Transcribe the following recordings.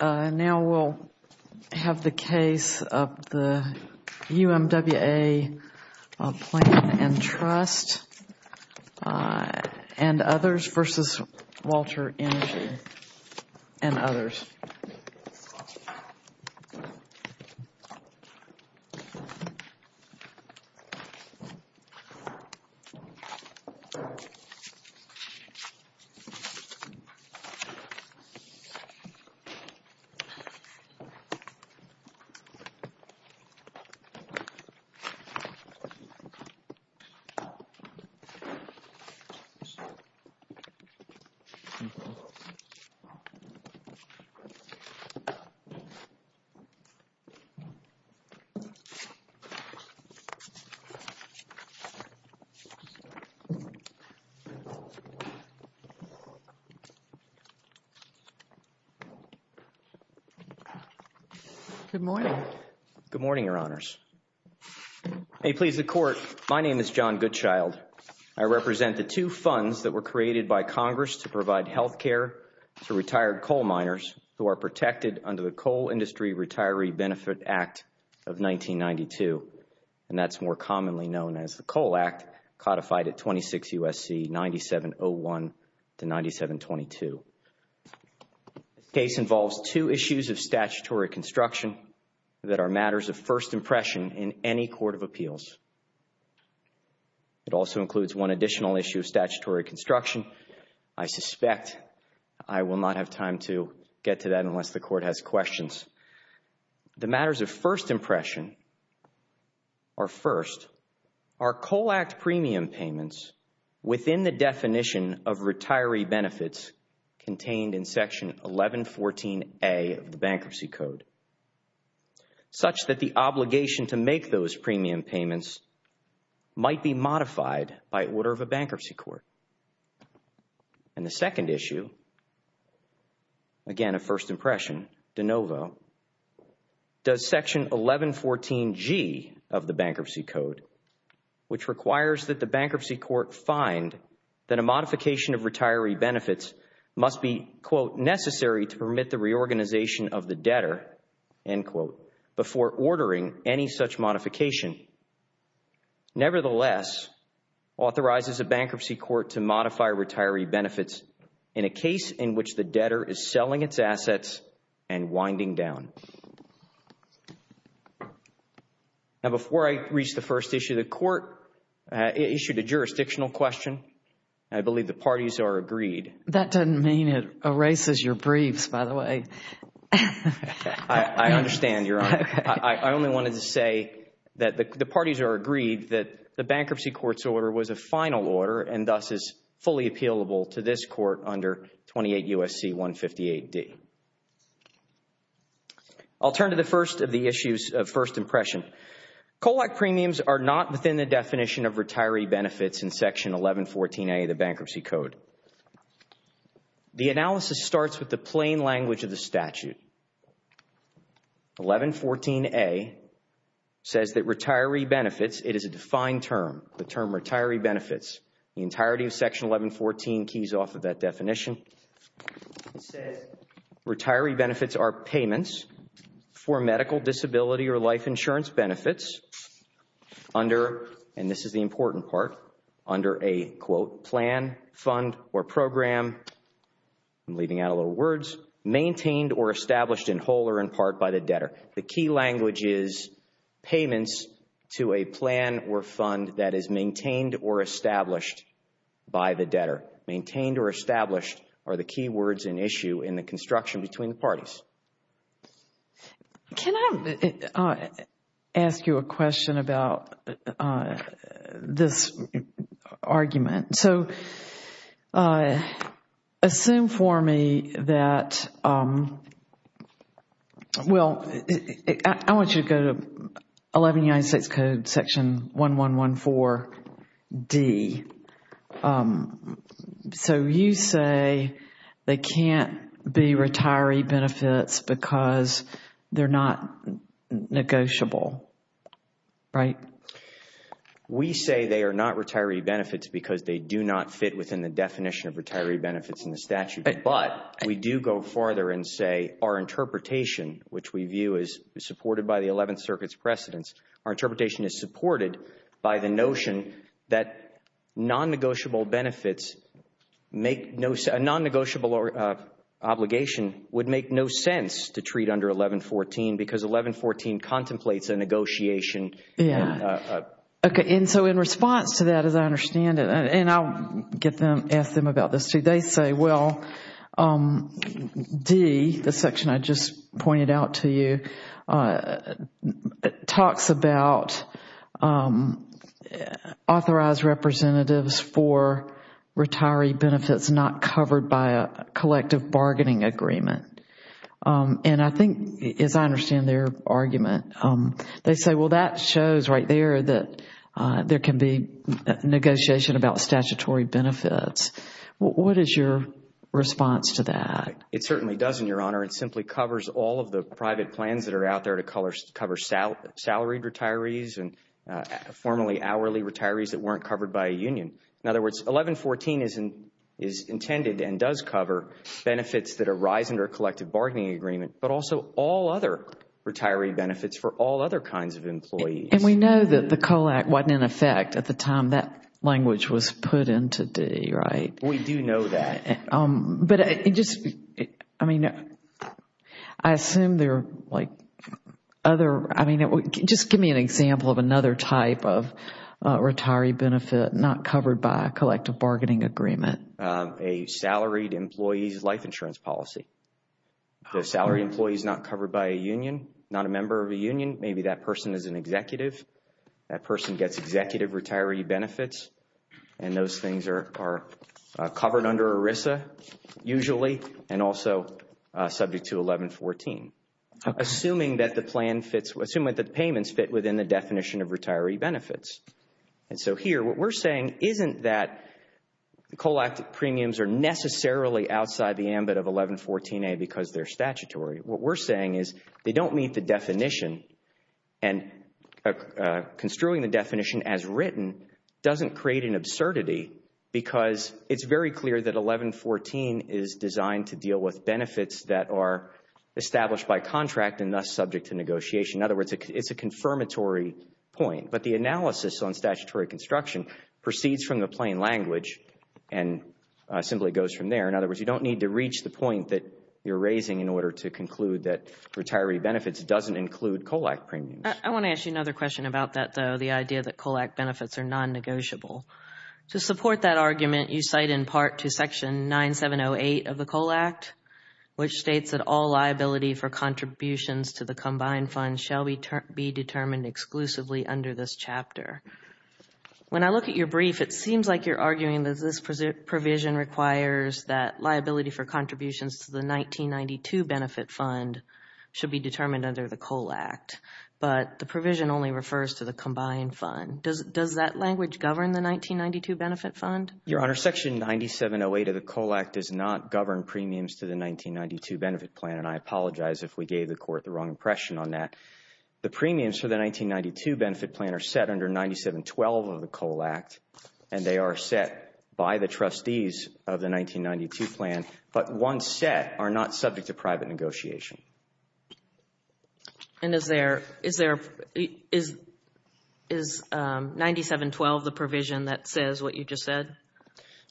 Now we'll have the case of the UMWA Pension Plan and Trust and others v. Walter Energy and others. This is the case of the UMWA Pension Plan and Trust and others v. Walter Energy and others. Good morning. Good morning, Your Honors. May it please the Court, my name is John Goodchild. I represent the two funds that were created by Congress to provide health care to retired coal miners who are protected under the Coal Industry Retiree Benefit Act of 1992. And that's more commonly known as the Coal Act, codified at 26 U.S.C. 9701 to 9722. The case involves two issues of statutory construction that are matters of first impression in any court of appeals. It also includes one additional issue of statutory construction. I suspect I will not have time to get to that unless the Court has questions. The matters of first impression are first, are Coal Act premium payments within the definition of retiree benefits contained in Section 1114A of the Bankruptcy Code, such that the obligation to make those premium payments might be modified by order of a bankruptcy court. And the second issue, again of first impression, de novo, does Section 1114G of the Bankruptcy Code, which requires that the bankruptcy court find that a modification of retiree benefits must be, quote, necessary to permit the reorganization of the debtor, end quote, before ordering any such modification. Nevertheless, authorizes a bankruptcy court to modify retiree benefits in a case in which the debtor is selling its assets and winding down. Now before I reach the first issue, the Court issued a jurisdictional question. I believe the parties are agreed. That doesn't mean it erases your briefs, by the way. I understand, Your Honor. I only wanted to say that the parties are agreed that the bankruptcy court's order was a final order and thus is fully appealable to this Court under 28 U.S.C. 158D. I'll turn to the first of the issues of first impression. Coal Act premiums are not within the definition of retiree benefits in Section 1114A of the Bankruptcy Code. The analysis starts with the plain language of the statute. 1114A says that retiree benefits, it is a defined term, the term retiree benefits, the entirety of Section 1114 keys off of that definition. It says retiree benefits are payments for medical, disability, or life insurance benefits under, and this is the important part, under a, quote, plan, fund, or program, I'm leaving out a lot of words, maintained or established in whole or in part by the debtor. The key language is payments to a plan or fund that is maintained or established by the debtor. Maintained or established are the key words in issue in the construction between the parties. Can I ask you a question about this argument? So assume for me that, well, I want you to go to 1196 Code Section 1114D. So you say they can't be retiree benefits because they're not negotiable, right? We say they are not retiree benefits because they do not fit within the definition of retiree benefits in the statute, but we do go farther and say our interpretation, which we view as supported by the 11th Circuit's precedents, our interpretation is supported by the notion that non-negotiable benefits make no, a non-negotiable obligation would make no sense to treat under 1114 because 1114 contemplates a negotiation. Okay, and so in response to that, as I understand it, and I'll get them, ask them about this too, they say, well, D, the section I just pointed out to you, talks about authorized representatives for retiree benefits not covered by a collective bargaining agreement. And I think, as I understand their argument, they say, well, that shows right there that there can be negotiation about statutory benefits. What is your response to that? It certainly doesn't, Your Honor. It simply covers all of the private plans that are out there to cover salaried retirees and formerly hourly retirees that weren't covered by a union. In other words, 1114 is intended and does cover benefits that arise under a collective bargaining agreement, but also all other retiree benefits for all other kinds of employees. And we know that the COLAC wasn't in effect at the time that language was put into D, right? We do know that. But I just, I mean, I assume there are, like, other, I mean, just give me an example of another type of retiree benefit not covered by a collective bargaining agreement. A salaried employee's life insurance policy. The salaried employee is not covered by a union, not a member of a union. Maybe that person is an executive. That person gets executive retiree benefits, and those things are covered under ERISA usually and also subject to 1114, assuming that the plan fits, assuming that the payments fit within the definition of retiree benefits. And so here what we're saying isn't that COLAC premiums are necessarily outside the ambit of 1114A because they're statutory. What we're saying is they don't meet the definition, and construing the definition as written doesn't create an absurdity because it's very clear that 1114 is designed to deal with benefits that are established by contract and thus subject to negotiation. In other words, it's a confirmatory point. But the analysis on statutory construction proceeds from the plain language and simply goes from there. In other words, you don't need to reach the point that you're raising in order to conclude that retiree benefits doesn't include COLAC premiums. I want to ask you another question about that, though, the idea that COLAC benefits are non-negotiable. To support that argument, you cite in part to Section 9708 of the COLAC, which states that all liability for contributions to the combined fund shall be determined exclusively under this chapter. When I look at your brief, it seems like you're arguing that this provision requires that liability for contributions to the 1992 benefit fund should be determined under the COLAC, but the provision only refers to the combined fund. Does that language govern the 1992 benefit fund? Your Honor, Section 9708 of the COLAC does not govern premiums to the 1992 benefit plan, and I apologize if we gave the Court the wrong impression on that. The premiums for the 1992 benefit plan are set under 9712 of the COLAC, and they are set by the trustees of the 1992 plan, but once set are not subject to private negotiation. And is 9712 the provision that says what you just said?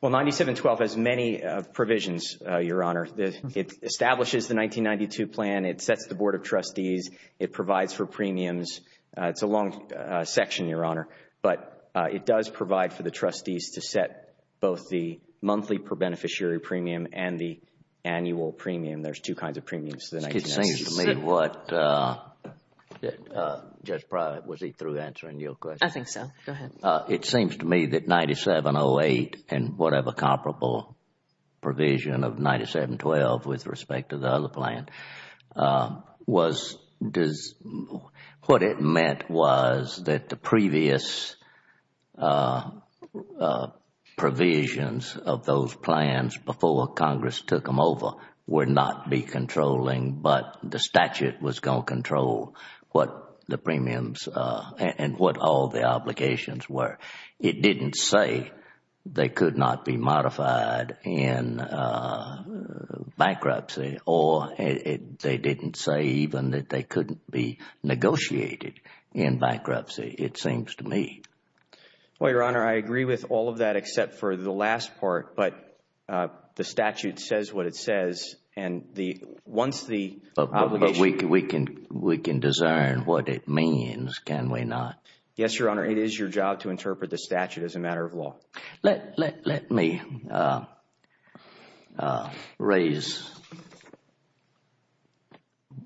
Well, 9712 has many provisions, Your Honor. It establishes the 1992 plan. It sets the Board of Trustees. It provides for premiums. It's a long section, Your Honor, but it does provide for the trustees to set both the monthly per beneficiary premium and the annual premium. There's two kinds of premiums to the 1992 plan. It seems to me that 9708 and whatever comparable provision of 9712, with respect to the other plan, was what it meant was that the previous provisions of those plans before Congress took them over would not be controlling, but the statute was going to control what the premiums and what all the obligations were. It didn't say they could not be modified in bankruptcy, or they didn't say even that they couldn't be negotiated in bankruptcy, it seems to me. Well, Your Honor, I agree with all of that except for the last part, but the statute says what it says. But we can discern what it means, can we not? Yes, Your Honor, it is your job to interpret the statute as a matter of law. Let me raise,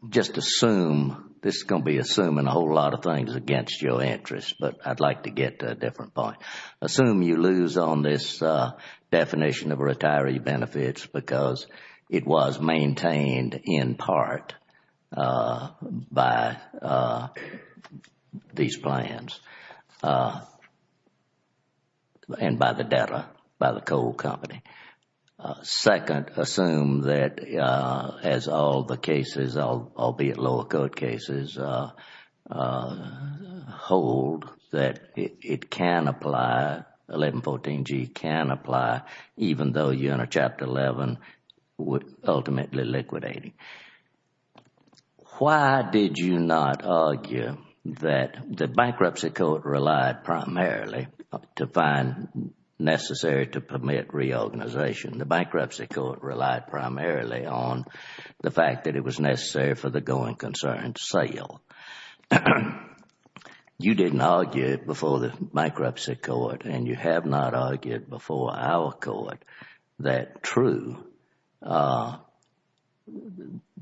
just assume, this is going to be assuming a whole lot of things against your interests, but I'd like to get to a different point. Assume you lose on this definition of retiree benefits because it was maintained in part by these plans, and by the debtor, by the coal company. Second, assume that as all the cases, albeit lower court cases, hold that it can apply, 1114G can apply, even though, Your Honor, Chapter 11 would ultimately liquidate it. Why did you not argue that the bankruptcy court relied primarily to find necessary to permit reorganization? The bankruptcy court relied primarily on the fact that it was necessary for the going concerns sale. You didn't argue it before the bankruptcy court, and you have not argued before our court that true, the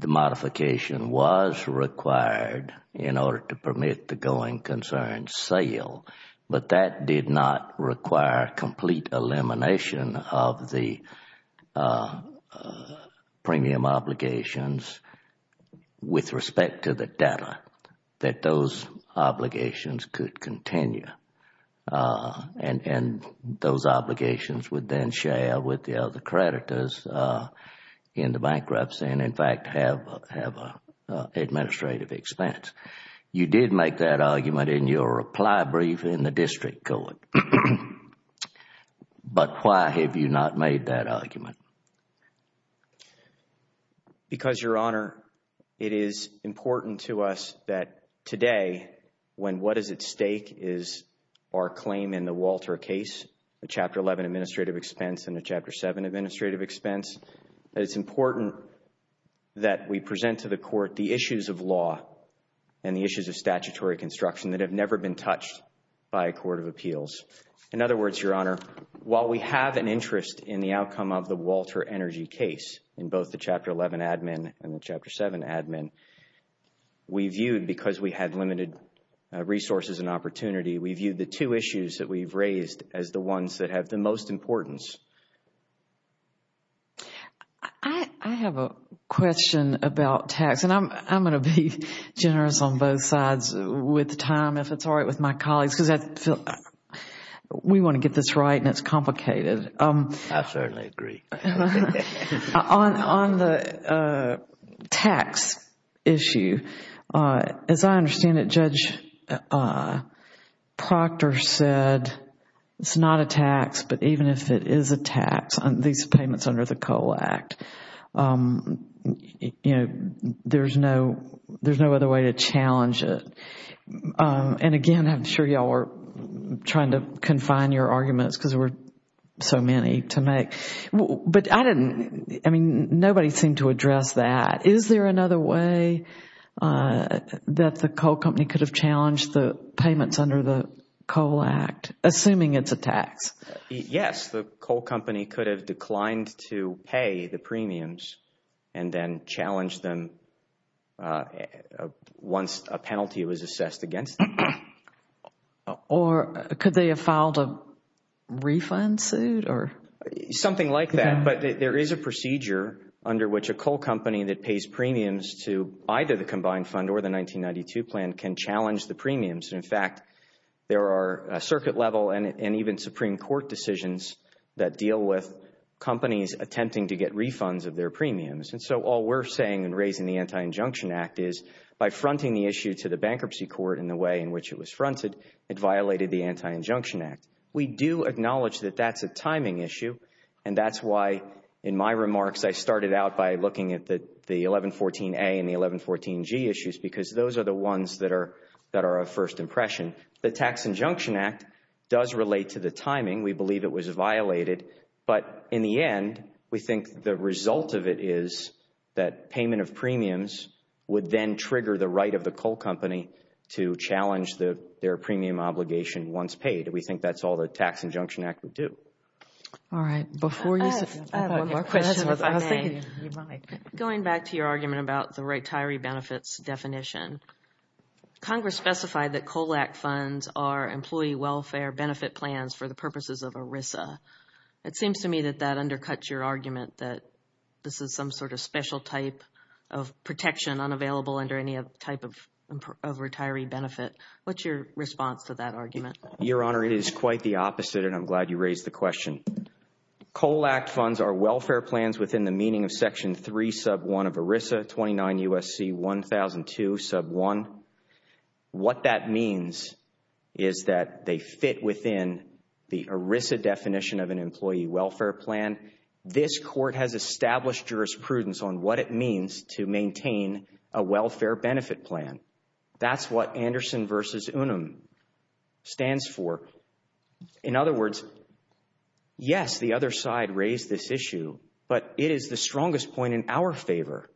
modification was required in order to permit the going concerns sale, but that did not require complete elimination of the premium obligations with respect to the debtor, that those obligations could continue. Those obligations would then share with the other creditors in the bankruptcy, and in fact, have an administrative expense. You did make that argument in your reply brief in the district court, but why have you not made that argument? Because, Your Honor, it is important to us that today, when what is at stake is our claim in the Walter case, the Chapter 11 administrative expense and the Chapter 7 administrative expense, that it's important that we present to the court the issues of law and the issues of statutory construction that have never been touched by a court of appeals. In other words, Your Honor, while we have an interest in the outcome of the Walter Energy case, in both the Chapter 11 admin and the Chapter 7 admin, we view, because we have limited resources and opportunity, we view the two issues that we've raised as the ones that have the most importance. I have a question about tax, and I'm going to be generous on both sides with time, if it's all right with my colleagues, because we want to get this right and it's complicated. I certainly agree. On the tax issue, as I understand it, Judge Proctor said it's not a tax, but even if it is a tax, at least payments under the COLA Act, there's no other way to challenge it. And again, I'm sure y'all are trying to confine your arguments because there are so many to make. I mean, nobody seemed to address that. Is there another way that the coal company could have challenged the payments under the COLA Act, assuming it's a tax? Yes, the coal company could have declined to pay the premiums and then challenged them once a penalty was assessed against them. Or could they have filed a refund suit? Something like that. But there is a procedure under which a coal company that pays premiums to either the combined fund or the 1992 plan can challenge the premiums. In fact, there are circuit-level and even Supreme Court decisions that deal with companies attempting to get refunds of their premiums. And so all we're saying in raising the Anti-Injunction Act is, by fronting the issue to the bankruptcy court in the way in which it was fronted, it violated the Anti-Injunction Act. We do acknowledge that that's a timing issue. And that's why, in my remarks, I started out by looking at the 1114A and the 1114G issues because those are the ones that are of first impression. The Tax Injunction Act does relate to the timing. We believe it was violated. But in the end, we think the result of it is that payment of premiums would then trigger the right of the coal company to challenge their premium obligation once paid. And we think that's all the Tax Injunction Act would do. All right. Before you get to questions, I have a question. Going back to your argument about the retiree benefits definition, Congress specified that COLAC funds are Employee Welfare Benefit Plans for the purposes of ERISA. It seems to me that that undercuts your argument that this is some sort of special type of protection unavailable under any type of retiree benefit. What's your response to that argument? Your Honor, it is quite the opposite, and I'm glad you raised the question. COLAC funds are welfare plans within the meaning of Section 3, Sub 1 of ERISA, 29 U.S.C. 1002, Sub 1. What that means is that they fit within the ERISA definition of an Employee Welfare Plan. This court has established jurisprudence on what it means to maintain a welfare benefit plan. That's what Anderson v. Unum stands for. In other words, yes, the other side raised this issue, but it is the strongest point in our favor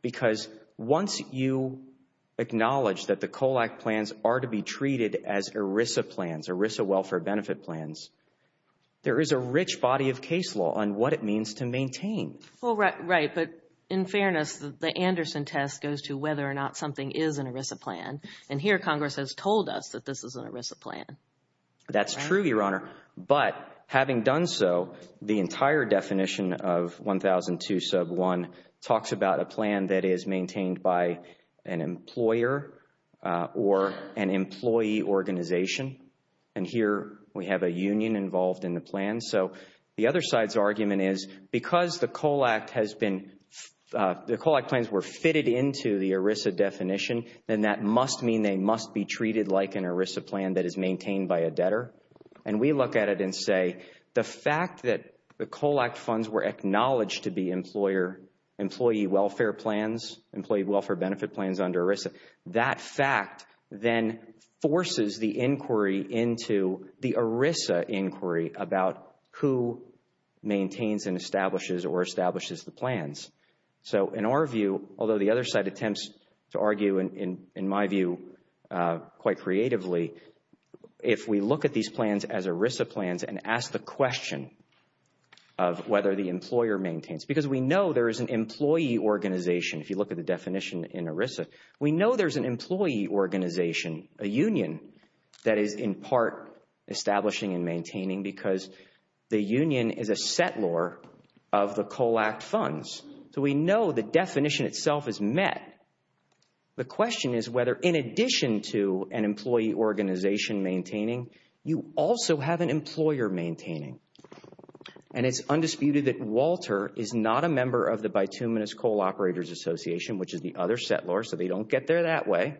because once you acknowledge that the COLAC plans are to be treated as ERISA plans, ERISA welfare benefit plans, there is a rich body of case law on what it means to maintain. Right, but in fairness, the Anderson test goes to whether or not something is an ERISA plan, and here Congress has told us that this is an ERISA plan. That's true, Your Honor, but having done so, the entire definition of 1002, Sub 1, talks about a plan that is maintained by an employer or an employee organization, and here we have a union involved in the plan. The other side's argument is because the COLAC plans were fitted into the ERISA definition, then that must mean they must be treated like an ERISA plan that is maintained by a debtor, and we look at it and say the fact that the COLAC funds were acknowledged to be employee welfare plans, employee welfare benefit plans under ERISA, that fact then forces the inquiry into the ERISA inquiry about who maintains and establishes or establishes the plans. So in our view, although the other side attempts to argue in my view quite creatively, if we look at these plans as ERISA plans and ask the question of whether the employer maintains, because we know there is an employee organization if you look at the definition in ERISA. We know there's an employee organization, a union, that is in part establishing and maintaining because the union is a settlor of the COLAC funds, so we know the definition itself is met. The question is whether in addition to an employee organization maintaining, you also have an employer maintaining, and it's undisputed that Walter is not a member of the Bituminous Coal Operators Association, which is the other settlor, so they don't get there that way.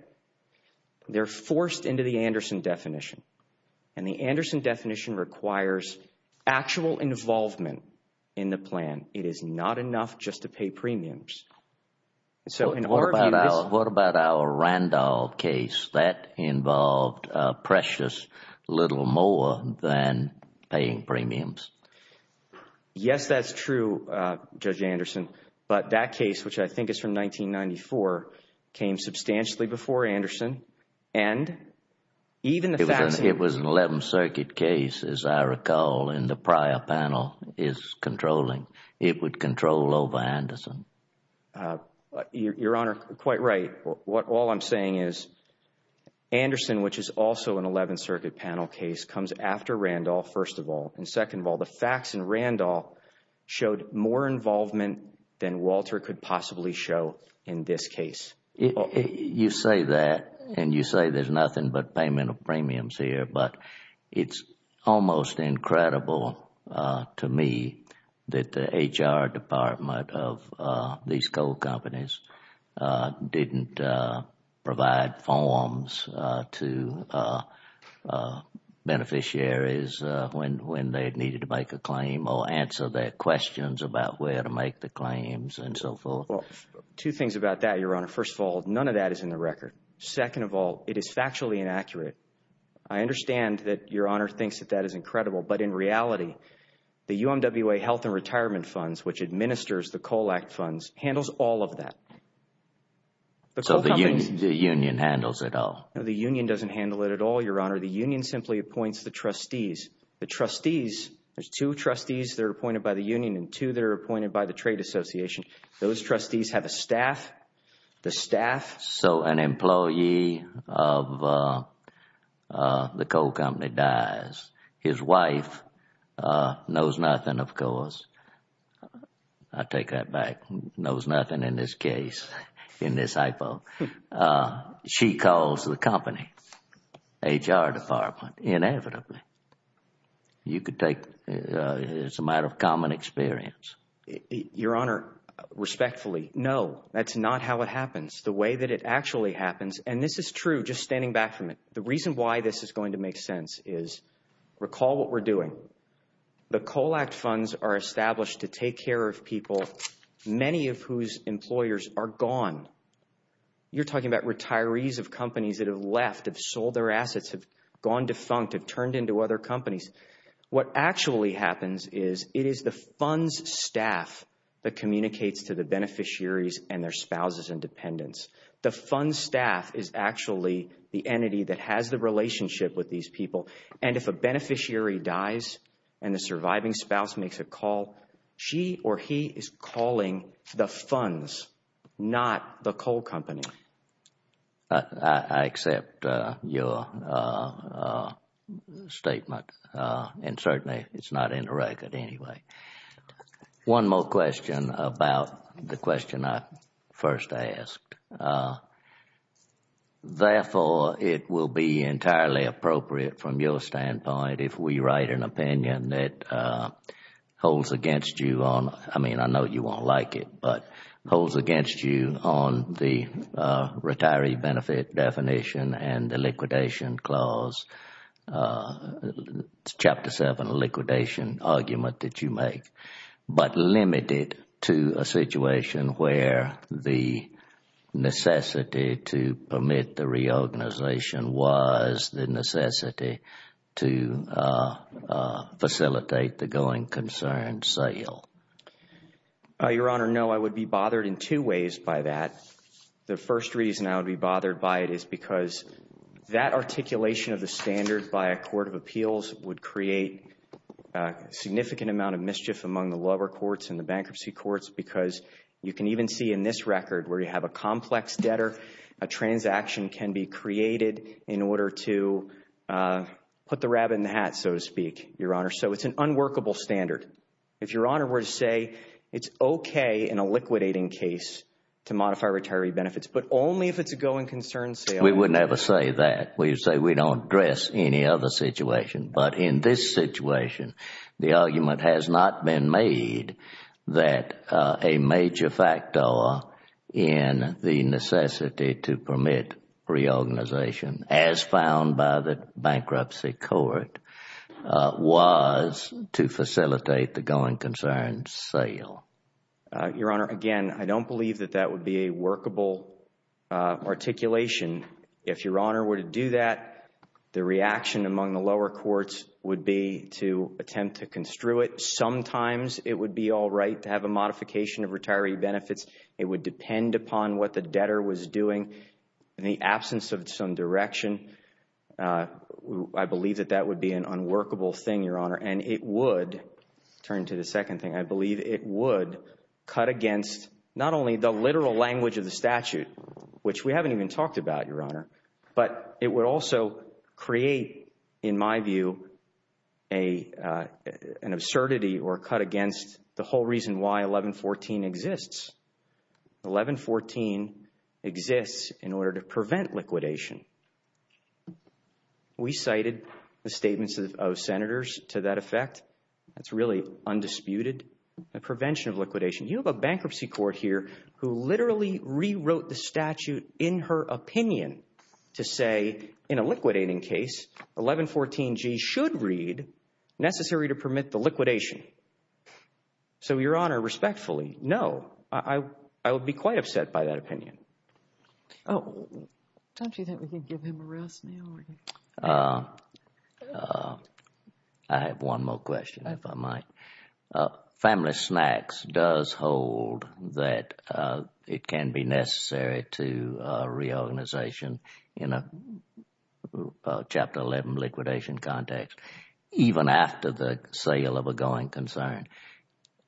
They're forced into the Anderson definition, and the Anderson definition requires actual involvement in the plan. It is not enough just to pay premiums. What about our Randolph case that involved precious little more than paying premiums? Yes, that's true, Judge Anderson, but that case, which I think is from 1994, came substantially before Anderson. It was an 11th Circuit case, as I recall, and the prior panel is controlling. It would control over Anderson. Your Honor, quite right. All I'm saying is Anderson, which is also an 11th Circuit panel case, comes after Randolph, first of all, and second of all, the facts in Randolph showed more involvement than Walter could possibly show in this case. You say that, and you say there's nothing but payment of premiums here, but it's almost incredible to me that the HR department of these coal companies didn't provide forms to beneficiaries when they needed to make a claim or answer their questions about where to make the claims and so forth. Two things about that, Your Honor. First of all, none of that is in the record. Second of all, it is factually inaccurate. I understand that Your Honor thinks that that is incredible, but in reality, the UMWA Health and Retirement Funds, which administers the Coal Act funds, handles all of that. So the union handles it all? The union doesn't handle it at all, Your Honor. The union simply appoints the trustees. The trustees, there's two trustees that are appointed by the union and two that are appointed by the Trade Association. Those trustees have a staff. So an employee of the coal company dies. His wife knows nothing, of course. I take that back. Knows nothing in this case, in this hypo. She calls the company, HR department, inevitably. You could take, it's a matter of common experience. Your Honor, respectfully, no. That's not how it happens. The way that it actually happens, and this is true, just standing back from it. The reason why this is going to make sense is, recall what we're doing. The Coal Act funds are established to take care of people, many of whose employers are gone. You're talking about retirees of companies that have left, have sold their assets, have gone defunct, have turned into other companies. What actually happens is, it is the funds staff that communicates to the beneficiaries and their spouses and dependents. The funds staff is actually the entity that has the relationship with these people. And if a beneficiary dies and the surviving spouse makes a call, she or he is calling the funds, not the coal company. I accept your statement. And certainly, it's not in the record anyway. One more question about the question I first asked. Therefore, it will be entirely appropriate from your standpoint if we write an opinion that holds against you. I mean, I know you won't like it, but holds against you on the retiree benefit definition and the liquidation clause, Chapter 7 liquidation argument that you make, but limited to a situation where the necessity to permit the reorganization was the necessity to facilitate the going concern sale. Your Honor, no, I would be bothered in two ways by that. The first reason I would be bothered by it is because that articulation of the standard by a court of appeals would create a significant amount of mischief among the lower courts and the bankruptcy courts, because you can even see in this record where you have a complex debtor, a transaction can be created in order to put the rabbit in the hat, so to speak, Your Honor. So, it's an unworkable standard. If Your Honor were to say it's okay in a liquidating case to modify retiree benefits, but only if it's a going concern sale. We would never say that. We would say we don't address any other situation. But in this situation, the argument has not been made that a major factor in the necessity to permit reorganization as found by the bankruptcy court was to facilitate the going concern sale. Your Honor, again, I don't believe that that would be a workable articulation. If Your Honor were to do that, the reaction among the lower courts would be to attempt to construe it. Sometimes it would be all right to have a modification of retiree benefits. It would depend upon what the debtor was doing. In the absence of some direction, I believe that that would be an unworkable thing, Your Honor. And it would, turn to the second thing, I believe it would cut against not only the literal language of the statute, which we haven't even talked about, Your Honor, but it would also create, in my view, an absurdity or cut against the whole reason why 1114 exists. 1114 exists in order to prevent liquidation. We cited the statements of senators to that effect. That's really undisputed. The prevention of liquidation. You have a bankruptcy court here who literally rewrote the statute in her opinion to say, in a liquidating case, 1114G should read, necessary to permit the liquidation. So, Your Honor, respectfully, no. I would be quite upset by that opinion. Oh, don't you think we can give him a rest now? I have one more question, if I might. Family Snacks does hold that it can be necessary to reorganization in a Chapter 11 liquidation context, even after the sale of a going concern.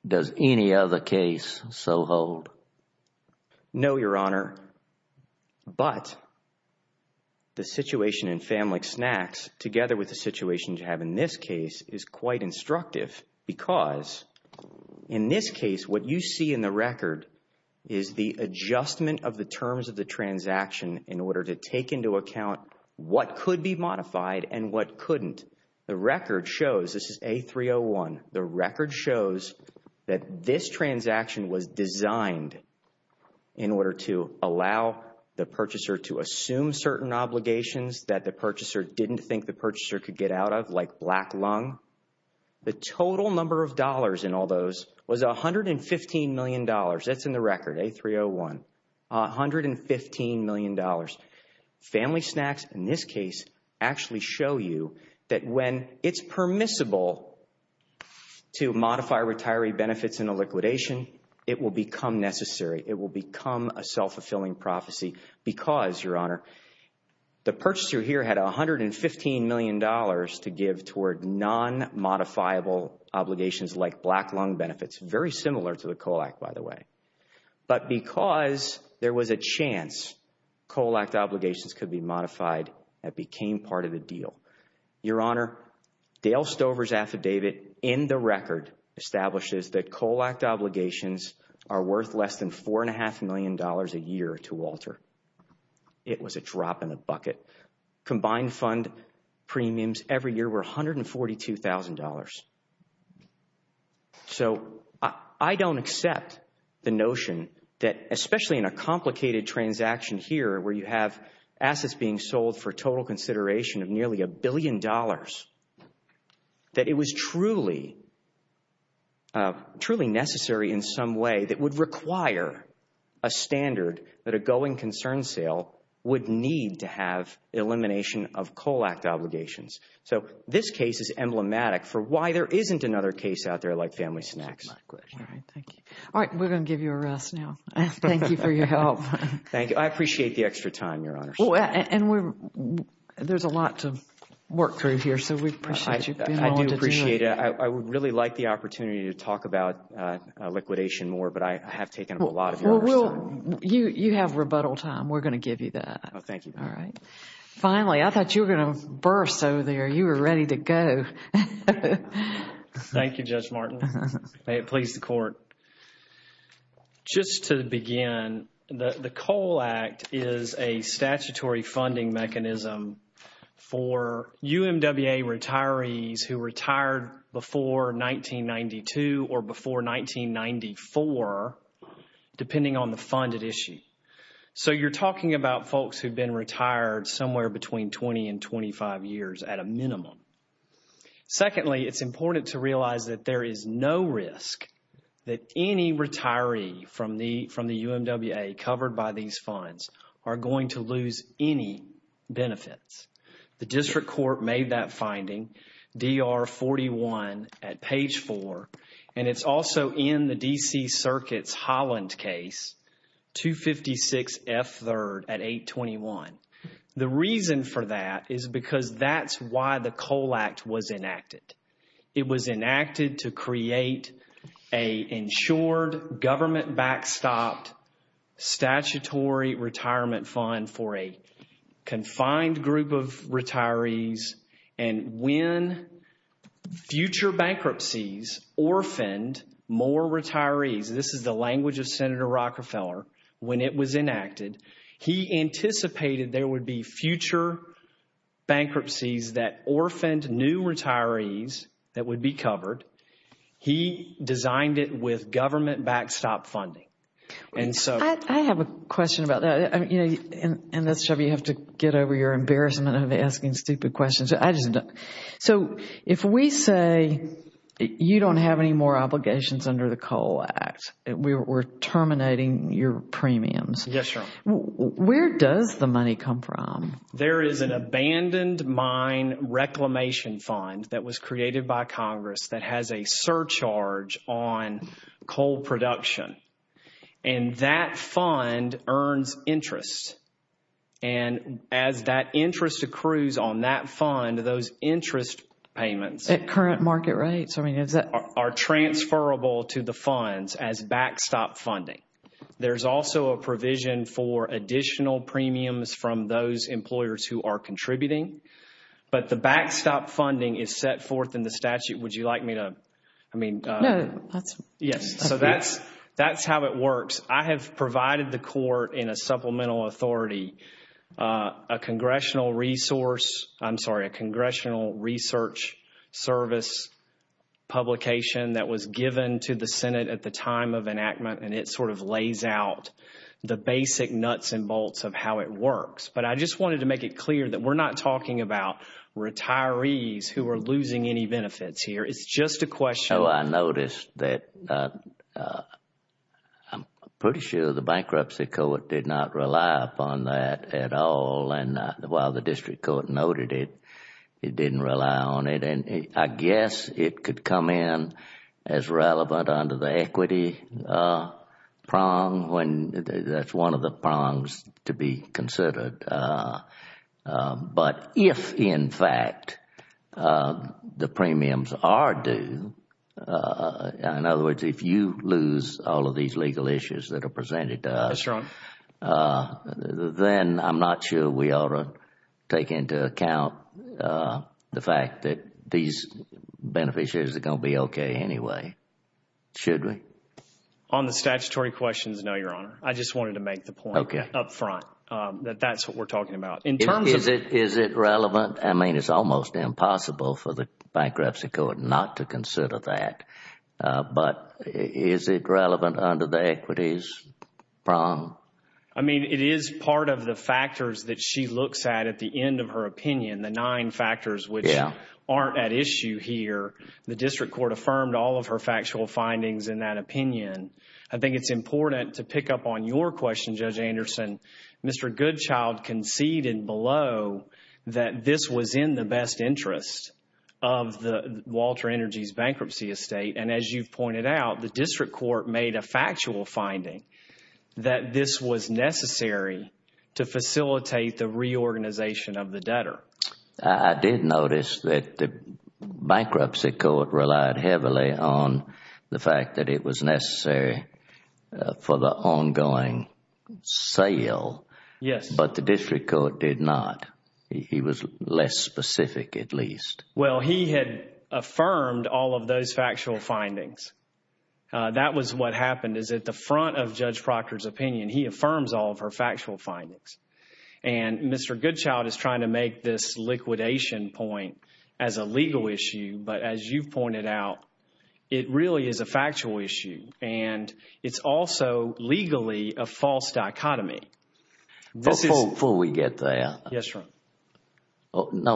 Does any other case so hold? No, Your Honor, but the situation in Family Snacks, together with the situation you have in this case, is quite instructive. Because, in this case, what you see in the record is the adjustment of the terms of the transaction in order to take into account what could be modified and what couldn't. The record shows, this is A301, the record shows that this transaction was designed in order to allow the purchaser to assume certain obligations that the purchaser didn't think the purchaser could get out of, like black lung. The total number of dollars in all those was $115 million. That's in the record, A301. $115 million. Family Snacks, in this case, actually show you that when it's permissible to modify retiree benefits in a liquidation, it will become necessary. It will become a self-fulfilling prophecy because, Your Honor, the purchaser here had $115 million to give toward non-modifiable obligations like black lung benefits, very similar to the COLAC, by the way. But because there was a chance COLAC obligations could be modified, that became part of the deal. Your Honor, Dale Stover's affidavit in the record establishes that COLAC obligations are worth less than $4.5 million a year to Walter. It was a drop in the bucket. Combined fund premiums every year were $142,000. So I don't accept the notion that, especially in a complicated transaction here where you have assets being sold for total consideration of nearly $1 billion, that it was truly necessary in some way that would require a standard that a going concern sale would need to have elimination of COLAC obligations. So this case is emblematic for why there isn't another case out there like Family Snacks. All right, thank you. All right, we're going to give you a rest now. Thank you for your help. Thank you. I appreciate the extra time, Your Honor. And there's a lot to work through here, so we appreciate you being on the team. I do appreciate it. I would really like the opportunity to talk about liquidation more, but I have taken up a lot of your time. Well, you have rebuttal time. We're going to give you that. Oh, thank you. All right. Finally, I thought you were going to burst over there. You were ready to go. Thank you, Judge Martin. It pleased the Court. Just to begin, the COLAC is a statutory funding mechanism for UMWA retirees who retired before 1992 or before 1994, depending on the funded issue. So you're talking about folks who have been retired somewhere between 20 and 25 years at a minimum. Secondly, it's important to realize that there is no risk that any retiree from the UMWA covered by these funds are going to lose any benefits. The District Court made that finding, DR-41, at page 4, and it's also in the D.C. Circuit's Holland case, 256 F. 3rd at 821. The reason for that is because that's why the COLAC was enacted. It was enacted to create an insured government backstop statutory retirement fund for a confined group of retirees, and when future bankruptcies orphaned more retirees, this is the language of Senator Rockefeller, when it was enacted, he anticipated there would be future bankruptcies that orphaned new retirees that would be covered. He designed it with government backstop funding. I have a question about that. And, Shelby, you have to get over your embarrassment of asking stupid questions. So if we say you don't have any more obligations under the COLAC, we're terminating your premiums. Yes, ma'am. Where does the money come from? There is an abandoned mine reclamation fund that was created by Congress that has a surcharge on coal production, and that fund earns interest, and as that interest accrues on that fund, those interest payments- At current market rates, I mean, is that- Are transferable to the funds as backstop funding. There's also a provision for additional premiums from those employers who are contributing, but the backstop funding is set forth in the statute. Would you like me to- No, that's- Yes, so that's how it works. I have provided the court in a supplemental authority a congressional resource- I'm sorry, a congressional research service publication that was given to the Senate at the time of enactment, and it sort of lays out the basic nuts and bolts of how it works, but I just wanted to make it clear that we're not talking about retirees who are losing any benefits here. It's just a question- I noticed that I'm pretty sure the bankruptcy court did not rely upon that at all, and while the district court noted it, it didn't rely on it, and I guess it could come in as relevant under the equity prong. That's one of the prongs to be considered, but if, in fact, the premiums are due, in other words, if you lose all of these legal issues that are presented to us- That's right. then I'm not sure we ought to take into account the fact that these beneficiaries are going to be okay anyway. Should we? On the statutory questions, no, Your Honor. I just wanted to make the point up front that that's what we're talking about. In terms of- Is it relevant? I mean, it's almost impossible for the bankruptcy court not to consider that, but is it relevant under the equities prong? I mean, it is part of the factors that she looks at at the end of her opinion, the nine factors which aren't at issue here. The district court affirmed all of her factual findings in that opinion. I think it's important to pick up on your question, Judge Anderson. Mr. Goodchild conceded below that this was in the best interest of Walter Energy's bankruptcy estate, and as you pointed out, the district court made a factual finding that this was necessary to facilitate the reorganization of the debtor. I did notice that the bankruptcy court relied heavily on the fact that it was necessary for the ongoing sale. Yes. But the district court did not. He was less specific, at least. Well, he had affirmed all of those factual findings. That was what happened is at the front of Judge Proctor's opinion, he affirms all of her factual findings. Mr. Goodchild is trying to make this liquidation point as a legal issue, but as you pointed out, it really is a factual issue. It's also legally a false dichotomy. Before we get there,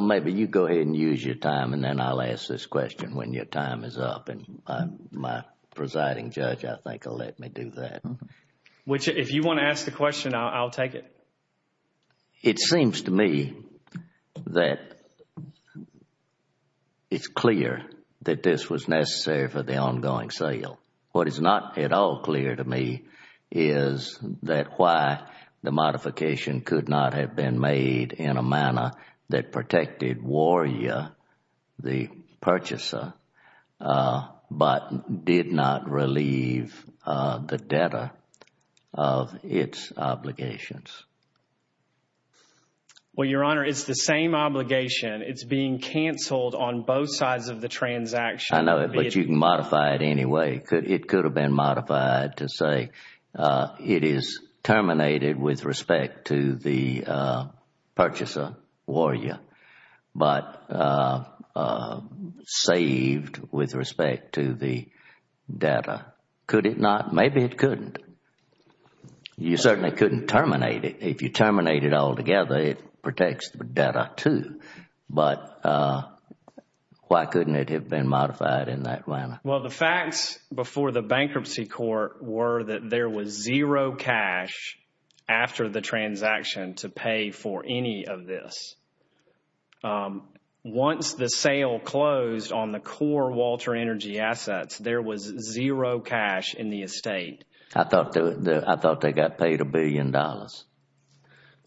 maybe you go ahead and use your time, and then I'll ask this question when your time is up. My presiding judge, I think, will let me do that. If you want to ask the question, I'll take it. It seems to me that it's clear that this was necessary for the ongoing sale. What is not at all clear to me is that why the modification could not have been made in a manner that protected Warrior, the purchaser, but did not relieve the debtor of its obligations. Well, Your Honor, it's the same obligation. It's being canceled on both sides of the transaction. I know, but you can modify it anyway. It could have been modified to say it is terminated with respect to the purchaser, Warrior, but saved with respect to the debtor. Could it not? Maybe it couldn't. You certainly couldn't terminate it. If you terminate it altogether, it protects the debtor too, but why couldn't it have been modified in that manner? Well, the facts before the bankruptcy court were that there was zero cash after the transaction to pay for any of this. Once the sale closed on the core Walter Energy assets, there was zero cash in the estate. I thought they got paid a billion dollars.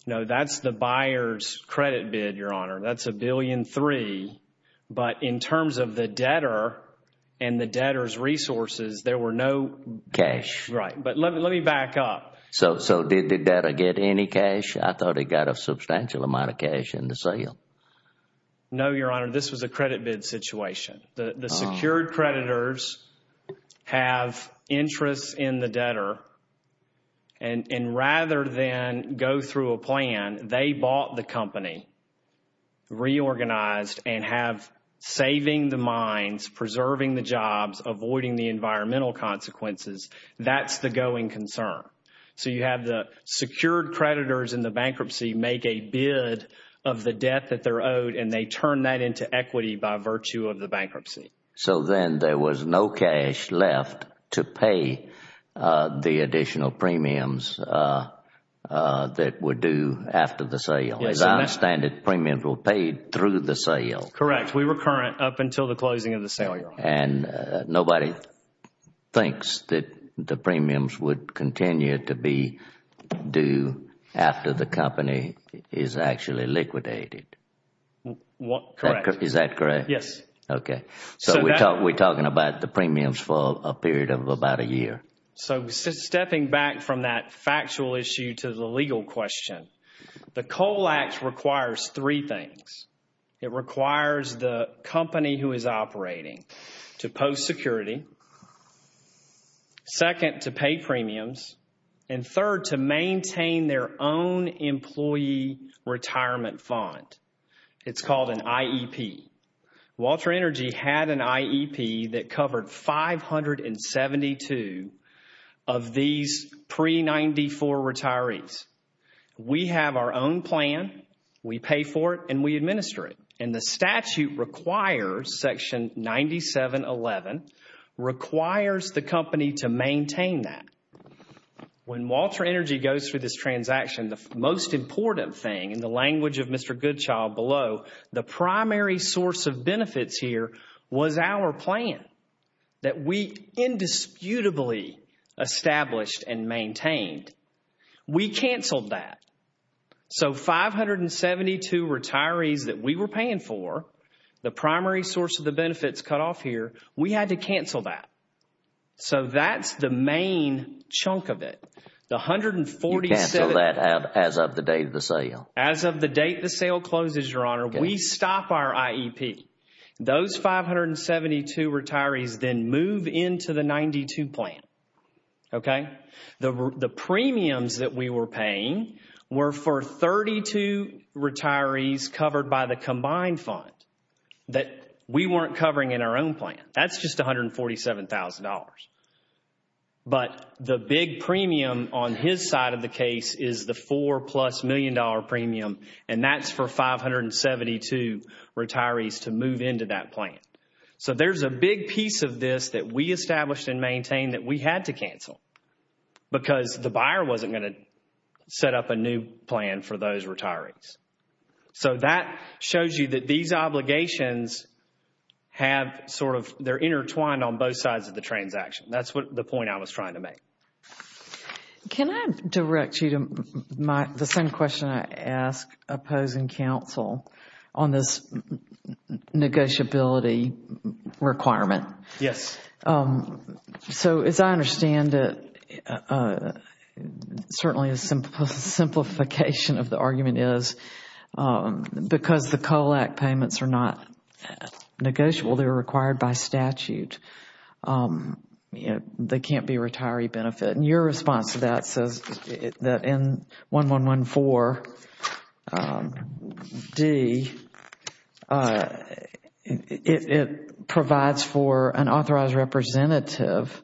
No, that's the buyer's credit bid, Your Honor. That's a billion three, but in terms of the debtor and the debtor's resources, there were no cash. Right, but let me back up. So did the debtor get any cash? I thought he got a substantial amount of cash in the sale. No, Your Honor, this was a credit bid situation. The secured creditors have interest in the debtor, and rather than go through a plan, they bought the company, reorganized, and have saving the mines, preserving the jobs, avoiding the environmental consequences. That's the going concern. So you have the secured creditors in the bankruptcy make a bid of the debt that they're owed, and they turn that into equity by virtue of the bankruptcy. So then there was no cash left to pay the additional premiums that were due after the sale. As I understand it, premiums were paid through the sale. Correct. We were current up until the closing of the sale, Your Honor. And nobody thinks that the premiums would continue to be due after the company is actually liquidated. Correct. Is that correct? Yes. Okay. So we're talking about the premiums for a period of about a year. So stepping back from that factual issue to the legal question, the COAL Act requires three things. It requires the company who is operating to post security, second, to pay premiums, and third, to maintain their own employee retirement fund. It's called an IEP. Walter Energy had an IEP that covered 572 of these pre-'94 retirees. We have our own plan, we pay for it, and we administer it. And the statute requires, Section 9711, requires the company to maintain that. When Walter Energy goes through this transaction, the most important thing, in the language of Mr. Goodchild below, the primary source of benefits here was our plan that we indisputably established and maintained. We canceled that. So 572 retirees that we were paying for, the primary source of the benefits cut off here, we had to cancel that. So that's the main chunk of it. You canceled that as of the date of the sale. As of the date the sale closes, Your Honor. We stop our IEP. Those 572 retirees then move into the 92 plan. Okay? The premiums that we were paying were for 32 retirees covered by the combined fund that we weren't covering in our own plan. That's just $147,000. But the big premium on his side of the case is the four-plus-million-dollar premium, and that's for 572 retirees to move into that plan. So there's a big piece of this that we established and maintained that we had to cancel because the buyer wasn't going to set up a new plan for those retirees. So that shows you that these obligations have sort of, they're intertwined on both sides of the transaction. That's the point I was trying to make. Can I direct you to the same question I asked opposing counsel on this negotiability requirement? Yes. So as I understand it, certainly a simplification of the argument is because the COLAC payments are not negotiable, they're required by statute, they can't be a retiree benefit. Your response to that says that in 1114D, it provides for an authorized representative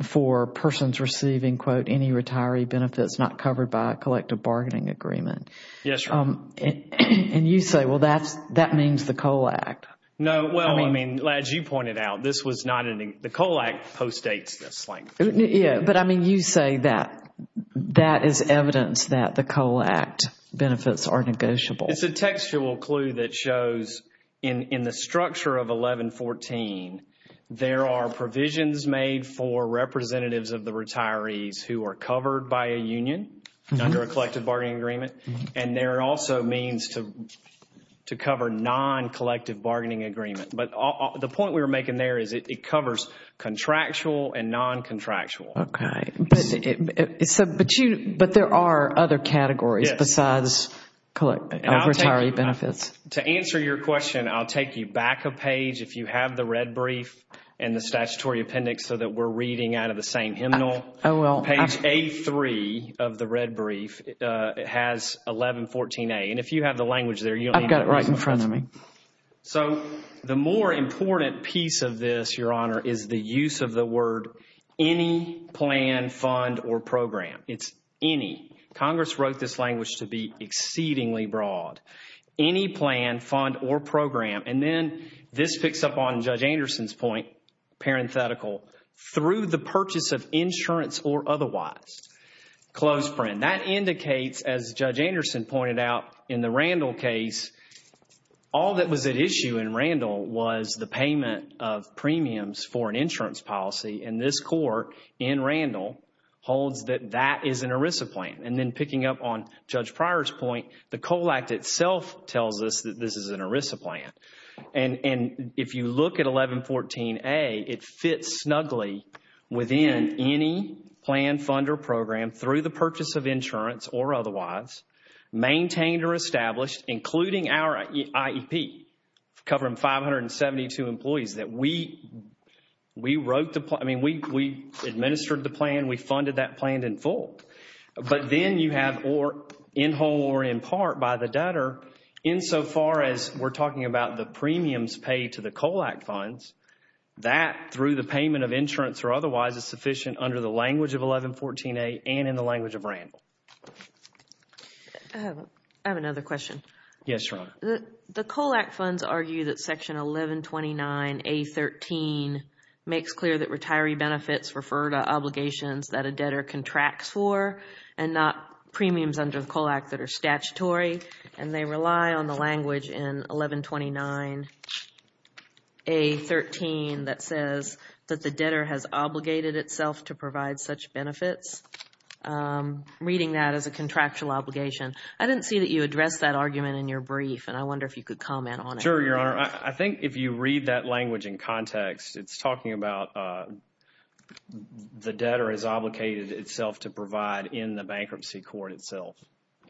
for persons receiving, quote, any retiree benefits not covered by a collective bargaining agreement. Yes, sir. And you say, well, that means the COLAC. No, well, I mean, as you pointed out, the COLAC postdates this. Yes, but I mean, you say that that is evidence that the COLAC benefits are negotiable. It's a textual clue that shows in the structure of 1114, there are provisions made for representatives of the retirees who are covered by a union under a collective bargaining agreement. And there are also means to cover non-collective bargaining agreement. But the point we were making there is it covers contractual and non-contractual. Okay. But there are other categories besides retiree benefits. To answer your question, I'll take you back a page if you have the red brief and the statutory appendix so that we're reading out of the same hymnal. I will. Page A3 of the red brief has 1114A. And if you have the language there, you'll have it. I've got it right in front of me. So the more important piece of this, Your Honor, is the use of the word any plan, fund, or program. It's any. Congress wrote this language to be exceedingly broad. Any plan, fund, or program. And then this picks up on Judge Anderson's point, parenthetical, through the purchase of insurance or otherwise. Close friend. That indicates, as Judge Anderson pointed out in the Randall case, all that was at issue in Randall was the payment of premiums for an insurance policy. And this court in Randall holds that that is an ERISA plan. And then picking up on Judge Pryor's point, the COLACT itself tells us that this is an ERISA plan. And if you look at 1114A, it fits snugly within any plan, fund, or program through the purchase of insurance or otherwise, maintained or established, including our IEP, covering 572 employees, that we wrote the plan. I mean, we administered the plan. We funded that plan in full. But then you have in whole or in part by the debtor, insofar as we're talking about the premiums paid to the COLACT funds, that, through the payment of insurance or otherwise, is sufficient under the language of 1114A and in the language of Randall. I have another question. Yes, your Honor. The COLACT funds argue that Section 1129A.13 makes clear that retiree benefits refer to obligations that a debtor contracts for and not premiums under COLACT that are statutory. And they rely on the language in 1129A.13 that says that the debtor has obligated itself to provide such benefits, reading that as a contractual obligation. I didn't see that you addressed that argument in your brief, and I wonder if you could comment on it. Sure, your Honor. I think if you read that language in context, it's talking about the debtor is obligated itself to provide in the bankruptcy court itself.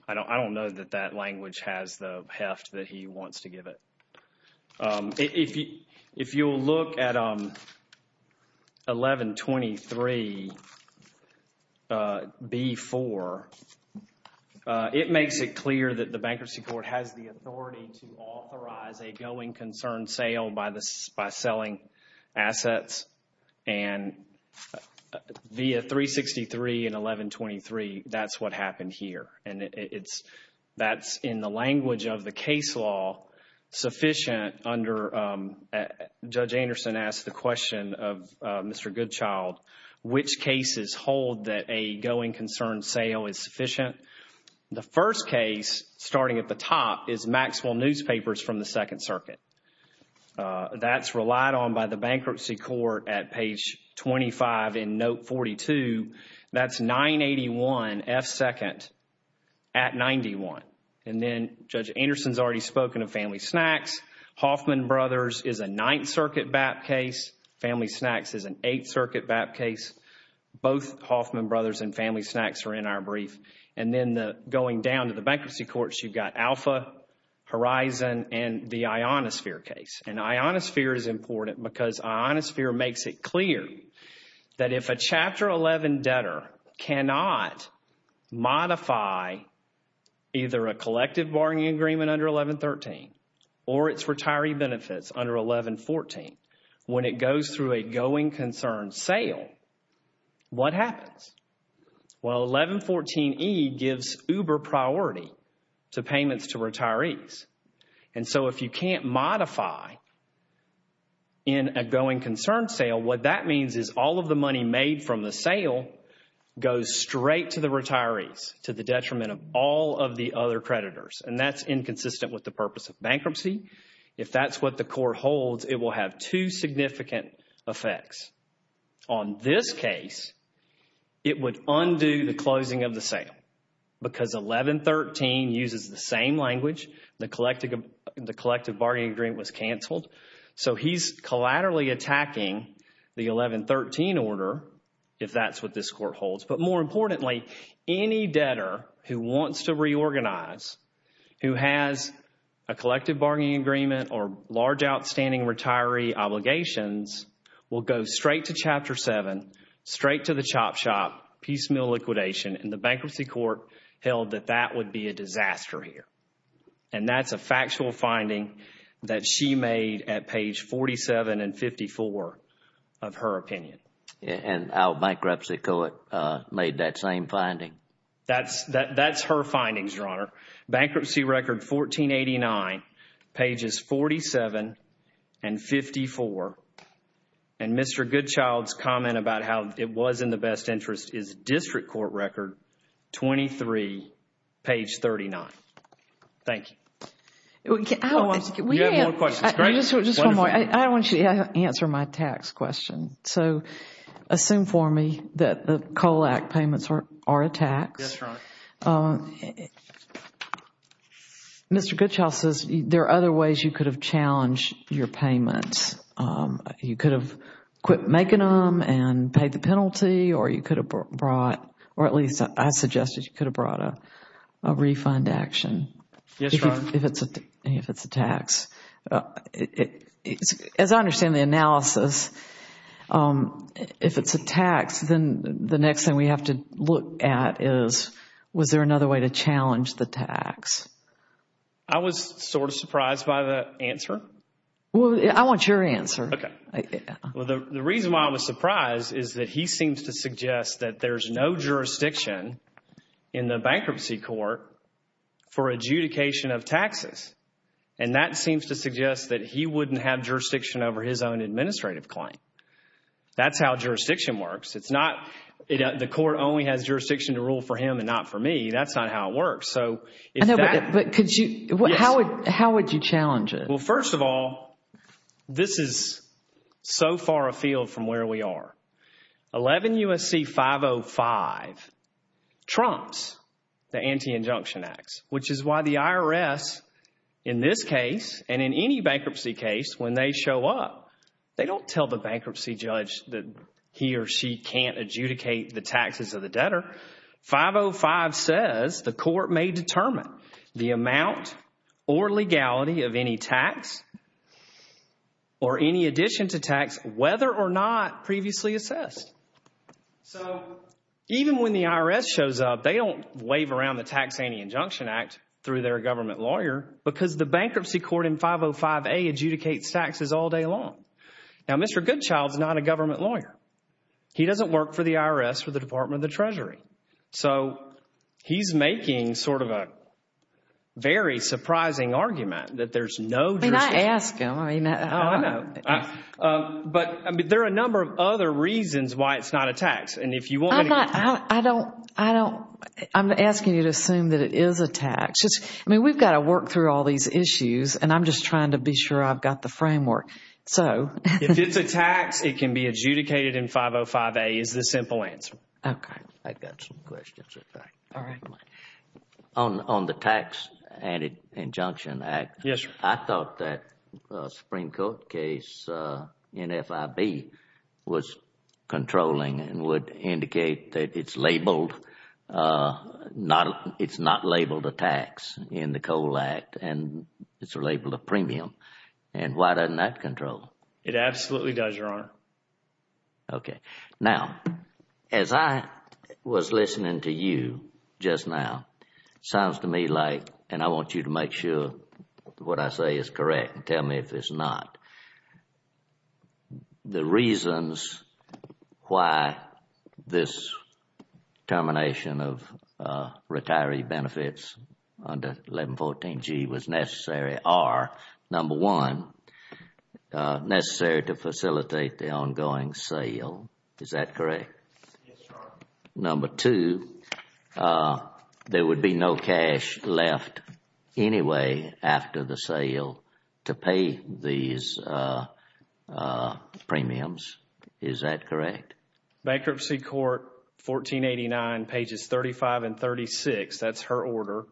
I don't know that that language has the heft that he wants to give it. If you look at 1123B.4, it makes it clear that the bankruptcy court has the authority to authorize a going concern sale by selling assets, and via 363 and 1123, that's what happened here. And that's in the language of the case law sufficient under, Judge Anderson asked the question of Mr. Goodchild, which cases hold that a going concern sale is sufficient. The first case, starting at the top, is Maxwell Newspapers from the Second Circuit. That's relied on by the bankruptcy court at page 25 in Note 42. That's 981F2 at 91. And then Judge Anderson's already spoken of Family Snacks. Hoffman Brothers is a Ninth Circuit BAP case. Family Snacks is an Eighth Circuit BAP case. Both Hoffman Brothers and Family Snacks are in our brief. And then going down to the bankruptcy courts, you've got Alpha, Horizon, and the Ionosphere case. And Ionosphere is important because Ionosphere makes it clear that if a Chapter 11 debtor cannot modify either a collective bargaining agreement under 1113 or its retiree benefits under 1114, when it goes through a going concern sale, what happens? Well, 1114E gives uber priority to payments to retirees. And so if you can't modify in a going concern sale, what that means is all of the money made from the sale goes straight to the retirees to the detriment of all of the other creditors. And that's inconsistent with the purpose of bankruptcy. If that's what the court holds, it will have two significant effects. On this case, it would undo the closing of the sale because 1113 uses the same language. The collective bargaining agreement was canceled. So he's collaterally attacking the 1113 order if that's what this court holds. But more importantly, any debtor who wants to reorganize, who has a collective bargaining agreement or large outstanding retiree obligations, will go straight to Chapter 7, straight to the chop shop, piecemeal liquidation. And the bankruptcy court held that that would be a disaster here. And that's a factual finding that she made at page 47 and 54 of her opinion. And our bankruptcy court made that same finding. That's her findings, Your Honor. Bankruptcy record 1489, pages 47 and 54. And Mr. Goodchild's comment about how it was in the best interest is District Court record 23, page 39. Thank you. We have more questions. Just one more. I want to answer my tax question. So assume for me that the COLAC payments are a tax. Yes, Your Honor. Mr. Goodchild says there are other ways you could have challenged your payments. You could have quit making them and paid the penalty or you could have brought, or at least I'd suggest that you could have brought a refund action. Yes, Your Honor. If it's a tax. As I understand the analysis, if it's a tax, then the next thing we have to look at is was there another way to challenge the tax? I was sort of surprised by the answer. Well, I want your answer. Okay. The reason why I was surprised is that he seems to suggest that there's no jurisdiction in the bankruptcy court for adjudication of taxes. And that seems to suggest that he wouldn't have jurisdiction over his own administrative claim. That's how jurisdiction works. It's not, the court only has jurisdiction to rule for him and not for me. That's not how it works. So if that. But could you, how would you challenge it? Well, first of all, this is so far afield from where we are. 11 U.S.C. 505 trumps the Anti-Injunction Act, which is why the IRS in this case and in any bankruptcy case when they show up, they don't tell the bankruptcy judge that he or she can't adjudicate the taxes of the debtor. 505 says the court may determine the amount or legality of any tax or any addition to tax whether or not previously assessed. So even when the IRS shows up, they don't wave around the Tax Paying Injunction Act through their government lawyer because the bankruptcy court in 505A adjudicates taxes all day long. Now, Mr. Goodchild is not a government lawyer. He doesn't work for the IRS or the Department of the Treasury. So he's making sort of a very surprising argument that there's no jurisdiction. I mean, I ask him. Oh, I know. But there are a number of other reasons why it's not a tax, and if you want to. I'm asking you to assume that it is a tax. I mean, we've got to work through all these issues, and I'm just trying to be sure I've got the framework. If it's a tax, it can be adjudicated in 505A. It's a simple answer. Okay. I've got some questions, in fact. All right. On the Tax Paying Injunction Act, I thought that the Supreme Court case, NFIB, was controlling and would indicate that it's not labeled a tax in the COAL Act, and it's labeled a premium. And why doesn't that control? It absolutely does, Your Honor. Okay. Now, as I was listening to you just now, sounds to me like, and I want you to make sure what I say is correct and tell me if it's not. The reasons why this termination of retiree benefits under 1114G was necessary are, number one, necessary to facilitate the ongoing sale. Is that correct? Yes, Your Honor. Number two, there would be no cash left anyway after the sale to pay these premiums. Is that correct? Bankruptcy Court, 1489, pages 35 and 36. That's her order.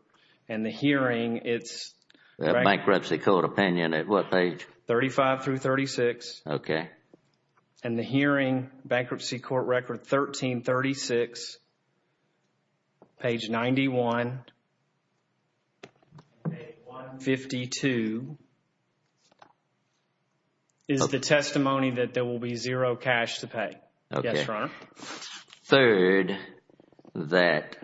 And the hearing, it's… Bankruptcy Court opinion at what page? 35 through 36. Okay. And the hearing, Bankruptcy Court record 1336, page 91, page 152, is the testimony that there will be zero cash to pay. Yes, Your Honor. Third, that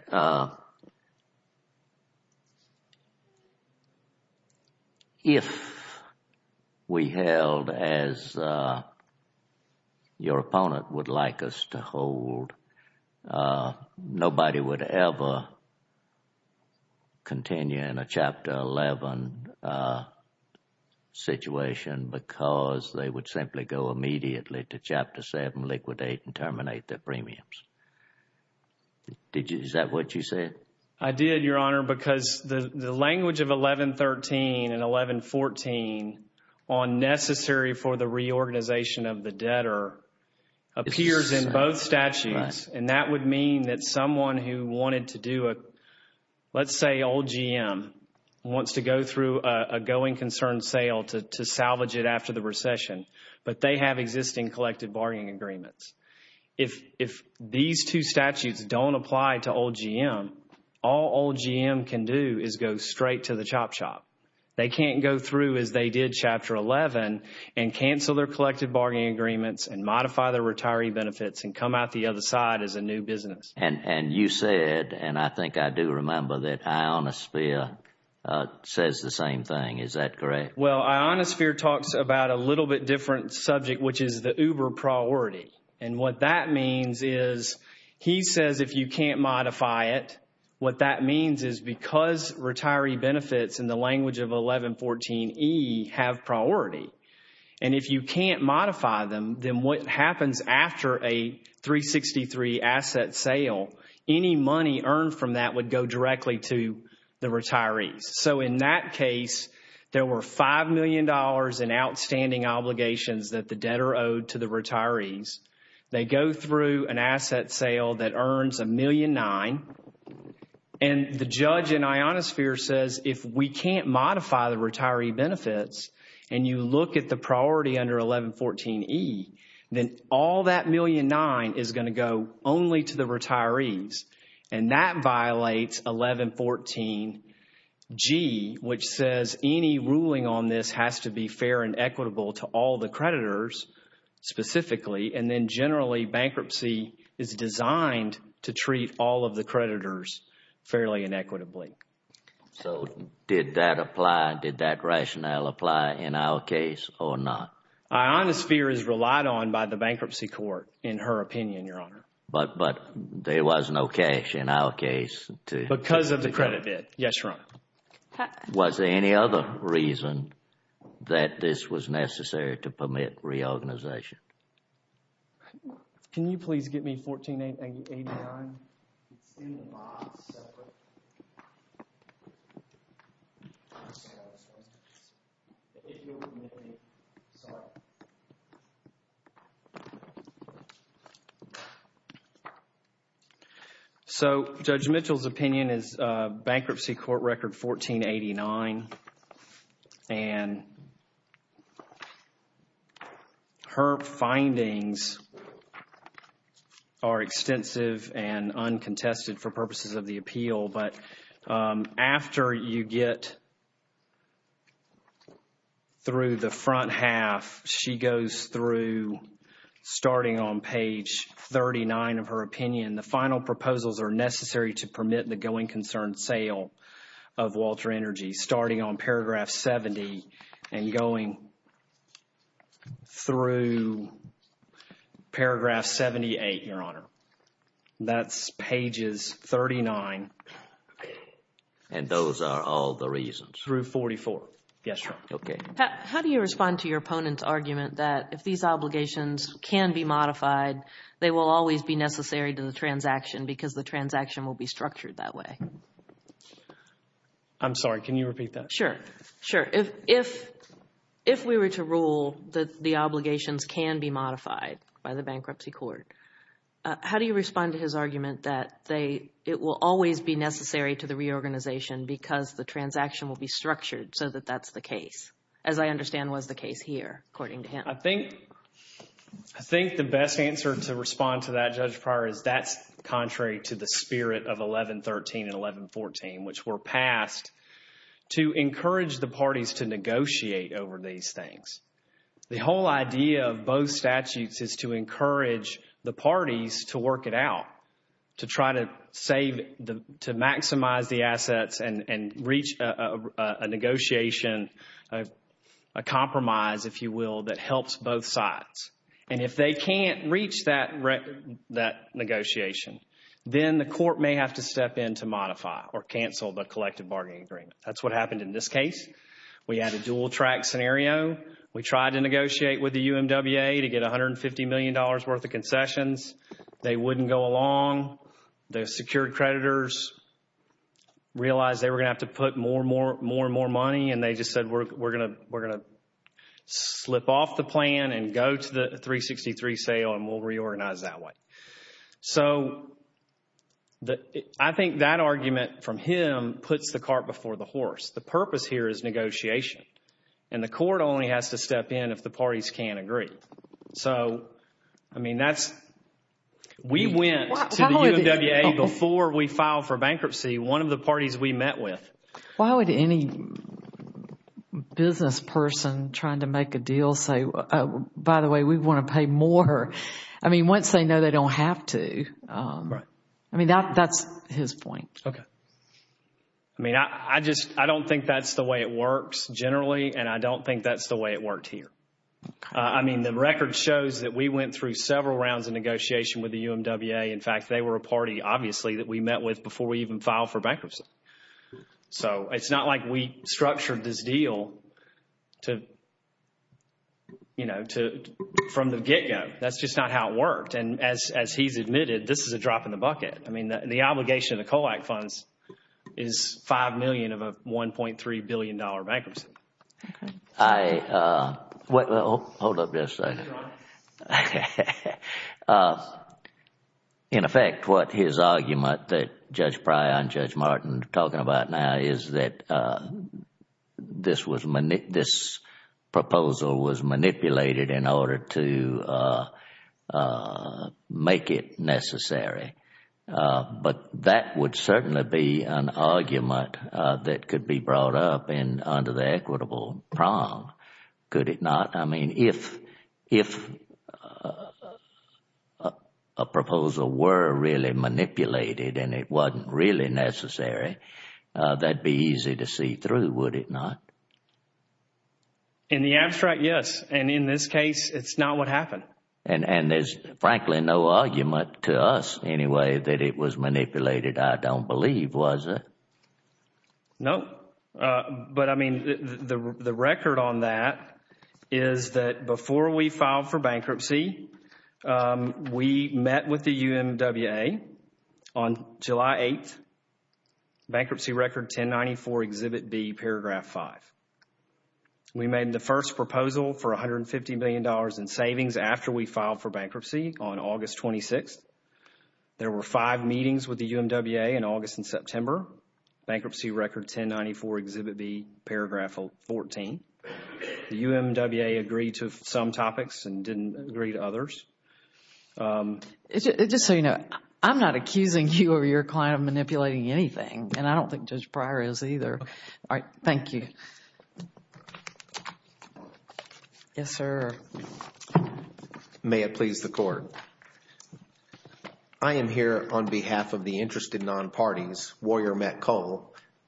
if we held as your opponent would like us to hold, nobody would ever continue in a Chapter 11 situation because they would simply go immediately to Chapter 7, liquidate, and terminate their premiums. Is that what you said? I did, Your Honor, because the language of 1113 and 1114 on necessary for the reorganization of the debtor appears in both statutes. And that would mean that someone who wanted to do a, let's say, old GM wants to go through a going concern sale to salvage it after the recession, but they have existing collective bargaining agreements. If these two statutes don't apply to old GM, all old GM can do is go straight to the chop shop. They can't go through as they did Chapter 11 and cancel their collective bargaining agreements and modify their retiree benefits and come out the other side as a new business. And you said, and I think I do remember that ionosphere says the same thing. Is that correct? Well, ionosphere talks about a little bit different subject, which is the uber priority. And what that means is he says if you can't modify it, what that means is because retiree benefits in the language of 1114E have priority, and if you can't modify them, then what happens after a 363 asset sale, any money earned from that would go directly to the retirees. So in that case, there were $5 million in outstanding obligations that the debtor owed to the retirees. They go through an asset sale that earns $1.9 million. And the judge in ionosphere says if we can't modify the retiree benefits and you look at the priority under 1114E, then all that $1.9 million is going to go only to the retirees. And that violates 1114G, which says any ruling on this has to be fair and equitable to all the creditors specifically, and then generally bankruptcy is designed to treat all of the creditors fairly and equitably. So did that apply? Did that rationale apply in our case or not? Ionosphere is relied on by the bankruptcy court in her opinion, Your Honor. But there was no cash in our case. Because of the credit bid, yes, Your Honor. Was there any other reason that this was necessary to permit reorganization? Can you please give me 1489? So Judge Mitchell's opinion is bankruptcy court record 1489. And her findings are extensive and uncontested for purposes of the appeal. But after you get through the front half, she goes through, starting on page 39 of her opinion, the final proposals are necessary to permit the going concern sale of Walter Energy, starting on paragraph 70 and going through paragraph 78, Your Honor. That's pages 39. And those are all the reasons. Through 44. Yes, Your Honor. Okay. How do you respond to your opponent's argument that if these obligations can be modified, they will always be necessary to the transaction because the transaction will be structured that way? I'm sorry. Can you repeat that? Sure. If we were to rule that the obligations can be modified by the bankruptcy court, how do you respond to his argument that it will always be necessary to the reorganization because the transaction will be structured so that that's the case? As I understand was the case here, according to him. I think the best answer to respond to that, Judge Pryor, is that's contrary to the spirit of 1113 and 1114, which were passed to encourage the parties to negotiate over these things. The whole idea of both statutes is to encourage the parties to work it out, to try to maximize the assets and reach a negotiation, a compromise, if you will, that helps both sides. And if they can't reach that negotiation, then the court may have to step in to modify or cancel the collective bargaining agreement. That's what happened in this case. We had a dual-track scenario. We tried to negotiate with the UMWA to get $150 million worth of concessions. They wouldn't go along. The secured creditors realized they were going to have to put more and more money, and they just said we're going to slip off the plan and go to the 363 sale, and we'll reorganize that way. So I think that argument from him puts the cart before the horse. The purpose here is negotiation, and the court only has to step in if the parties can't agree. So, I mean, that's – we went to the UMWA before we filed for bankruptcy. One of the parties we met with – Why would any business person trying to make a deal say, by the way, we want to pay more? I mean, once they know they don't have to. Right. I mean, that's his point. Okay. I mean, I just – I don't think that's the way it works generally, and I don't think that's the way it works here. I mean, the record shows that we went through several rounds of negotiation with the UMWA. In fact, they were a party, obviously, that we met with before we even filed for bankruptcy. So it's not like we structured this deal to – you know, from the get-go. That's just not how it worked, and as he's admitted, this is a drop in the bucket. I mean, the obligation of the COLAC funds is $5 million of a $1.3 billion bankruptcy. I – well, hold up just a second. In effect, what his argument that Judge Pryor and Judge Martin are talking about now is that this proposal was manipulated in order to make it necessary. But that would certainly be an argument that could be brought up under the equitable prong, could it not? I mean, if a proposal were really manipulated and it wasn't really necessary, that would be easy to see through, would it not? In the abstract, yes. And in this case, it's not what happened. And there's frankly no argument to us, anyway, that it was manipulated, I don't believe, was it? No. But, I mean, the record on that is that before we filed for bankruptcy, we met with the UMWA on July 8th. Bankruptcy Record 1094, Exhibit B, Paragraph 5. We made the first proposal for $150 million in savings after we filed for bankruptcy on August 26th. There were five meetings with the UMWA in August and September. Bankruptcy Record 1094, Exhibit B, Paragraph 14. The UMWA agreed to some topics and didn't agree to others. Just so you know, I'm not accusing you or your client of manipulating anything, and I don't think Judge Pryor is either. Okay. All right. Thank you. Yes, sir. May it please the Court. I am here on behalf of the interested non-parties, Warrior Metco,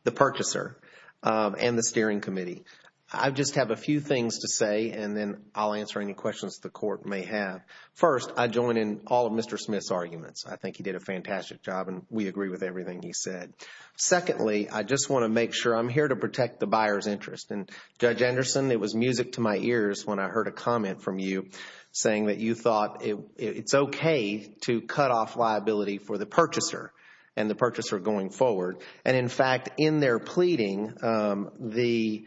the purchaser, and the Steering Committee. I just have a few things to say, and then I'll answer any questions the Court may have. First, I join in all of Mr. Smith's arguments. I think he did a fantastic job, and we agree with everything he said. Secondly, I just want to make sure I'm here to protect the buyer's interest. Judge Anderson, it was music to my ears when I heard a comment from you saying that you thought it's okay to cut off liability for the purchaser and the purchaser going forward. In fact, in their pleading, Mr.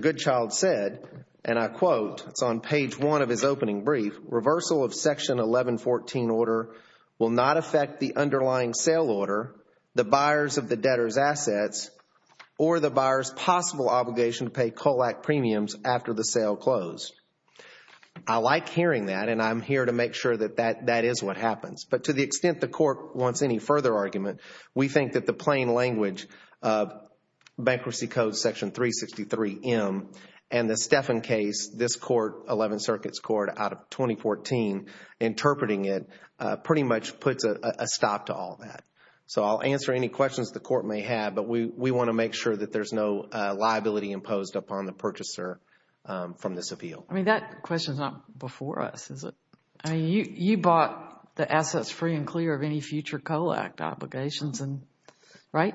Goodchild said, and I quote on page one of his opening brief, reversal of Section 1114 order will not affect the underlying sale order, the buyers of the debtor's assets, or the buyer's possible obligation to pay COLAC premiums after the sale closed. I like hearing that, and I'm here to make sure that that is what happens. But to the extent the Court wants any further argument, we think that the plain language Bankruptcy Code Section 363M and the Steffen case, this 11 circuits court out of 2014, interpreting it pretty much puts a stop to all that. So I'll answer any questions the Court may have, but we want to make sure that there's no liability imposed upon the purchaser from this appeal. I mean, that question's not before us, is it? You bought the assets free and clear of any future COLAC obligations, right?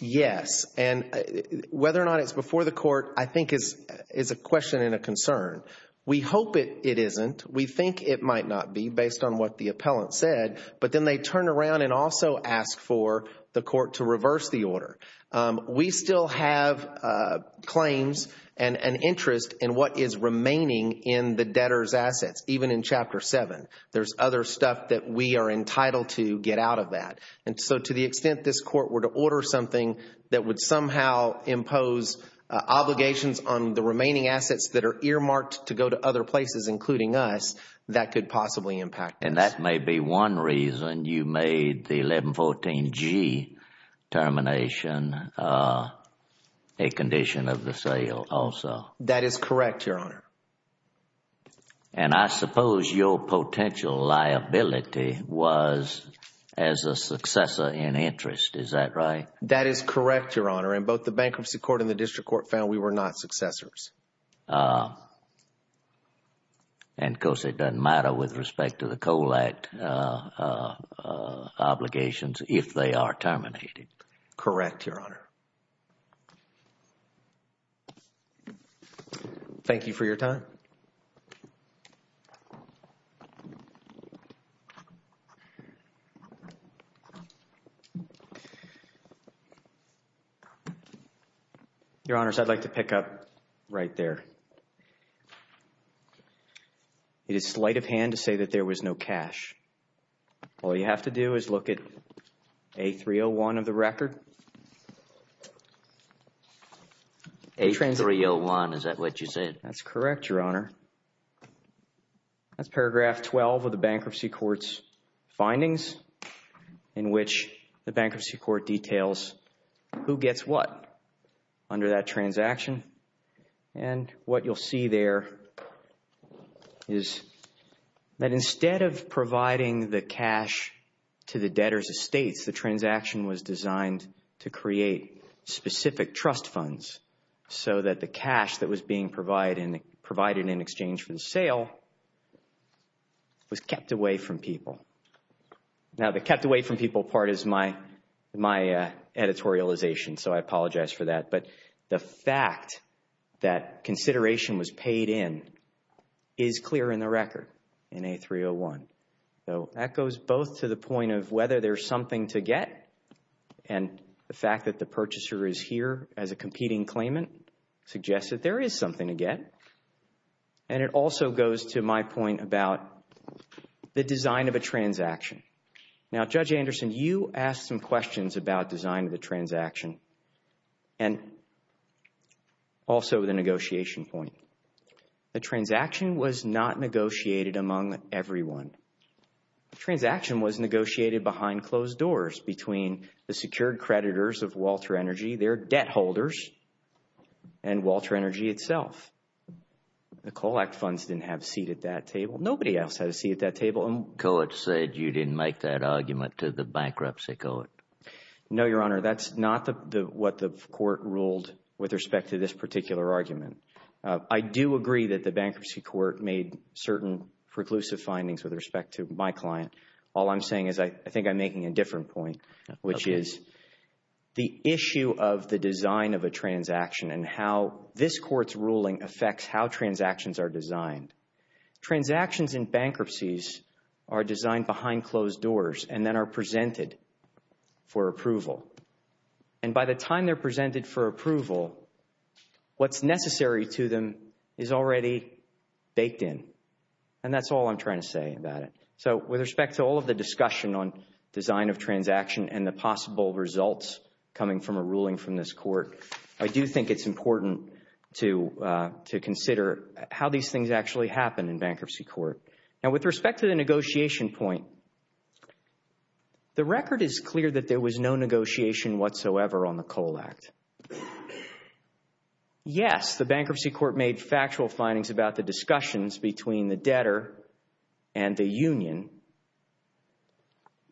Yes, and whether or not it's before the Court I think is a question and a concern. We hope it isn't. We think it might not be based on what the appellant said, but then they turn around and also ask for the Court to reverse the order. We still have claims and an interest in what is remaining in the debtor's assets, even in Chapter 7. There's other stuff that we are entitled to get out of that. And so to the extent this Court were to order something that would somehow impose obligations on the remaining assets that are earmarked to go to other places, including us, that could possibly impact that. And that may be one reason you made the 1114G termination a condition of the sale also. That is correct, Your Honor. And I suppose your potential liability was as a successor in interest, is that right? That is correct, Your Honor. And both the Bankruptcy Court and the District Court found we were not successors. And, of course, it doesn't matter with respect to the Coal Act obligations if they are terminated. Correct, Your Honor. Thank you for your time. Your Honor, I'd like to pick up right there. You did slight of hand to say that there was no cash. All you have to do is look at A301 of the record. A301, is that what you said? That's correct, Your Honor. Paragraph 12 of the Bankruptcy Court's findings in which the Bankruptcy Court details who gets what under that transaction. And what you'll see there is that instead of providing the cash to the debtor's estate, the transaction was designed to create specific trust funds so that the cash that was being provided in exchange for the sale was kept away from people. Now, the kept away from people part is my editorialization, so I apologize for that. But the fact that consideration was paid in is clear in the record in A301. So that goes both to the point of whether there's something to get and the fact that the purchaser is here as a competing claimant suggests that there is something to get. And it also goes to my point about the design of a transaction. Now, Judge Anderson, you asked some questions about design of the transaction and also the negotiation point. The transaction was not negotiated among everyone. The transaction was negotiated behind closed doors between the secured creditors of Walter Energy, their debt holders, and Walter Energy itself. The COLAC funds didn't have a seat at that table. Nobody else had a seat at that table. Coates said you didn't make that argument to the Bankruptcy Court. No, Your Honor, that's not what the court ruled with respect to this particular argument. I do agree that the Bankruptcy Court made certain preclusive findings with respect to my client. All I'm saying is I think I'm making a different point, which is the issue of the design of a transaction and how this court's ruling affects how transactions are designed. Transactions in bankruptcies are designed behind closed doors and then are presented for approval. And by the time they're presented for approval, what's necessary to them is already baked in. And that's all I'm trying to say about it. So with respect to all of the discussion on design of transaction and the possible results coming from a ruling from this court, I do think it's important to consider how these things actually happen in Bankruptcy Court. Now, with respect to the negotiation point, the record is clear that there was no negotiation whatsoever on the Cole Act. Yes, the Bankruptcy Court made factual findings about the discussions between the debtor and the union,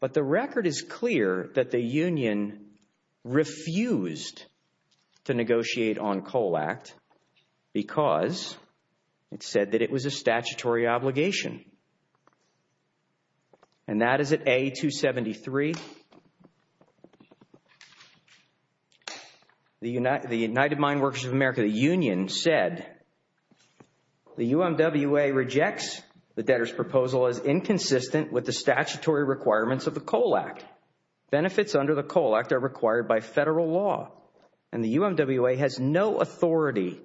but the record is clear that the union refused to negotiate on Cole Act because it said that it was a statutory obligation. And that is at A273. The United Mine Workers of America Union said, the UMWA rejects the debtor's proposal as inconsistent with the statutory requirements of the Cole Act. Benefits under the Cole Act are required by federal law, and the UMWA has no authority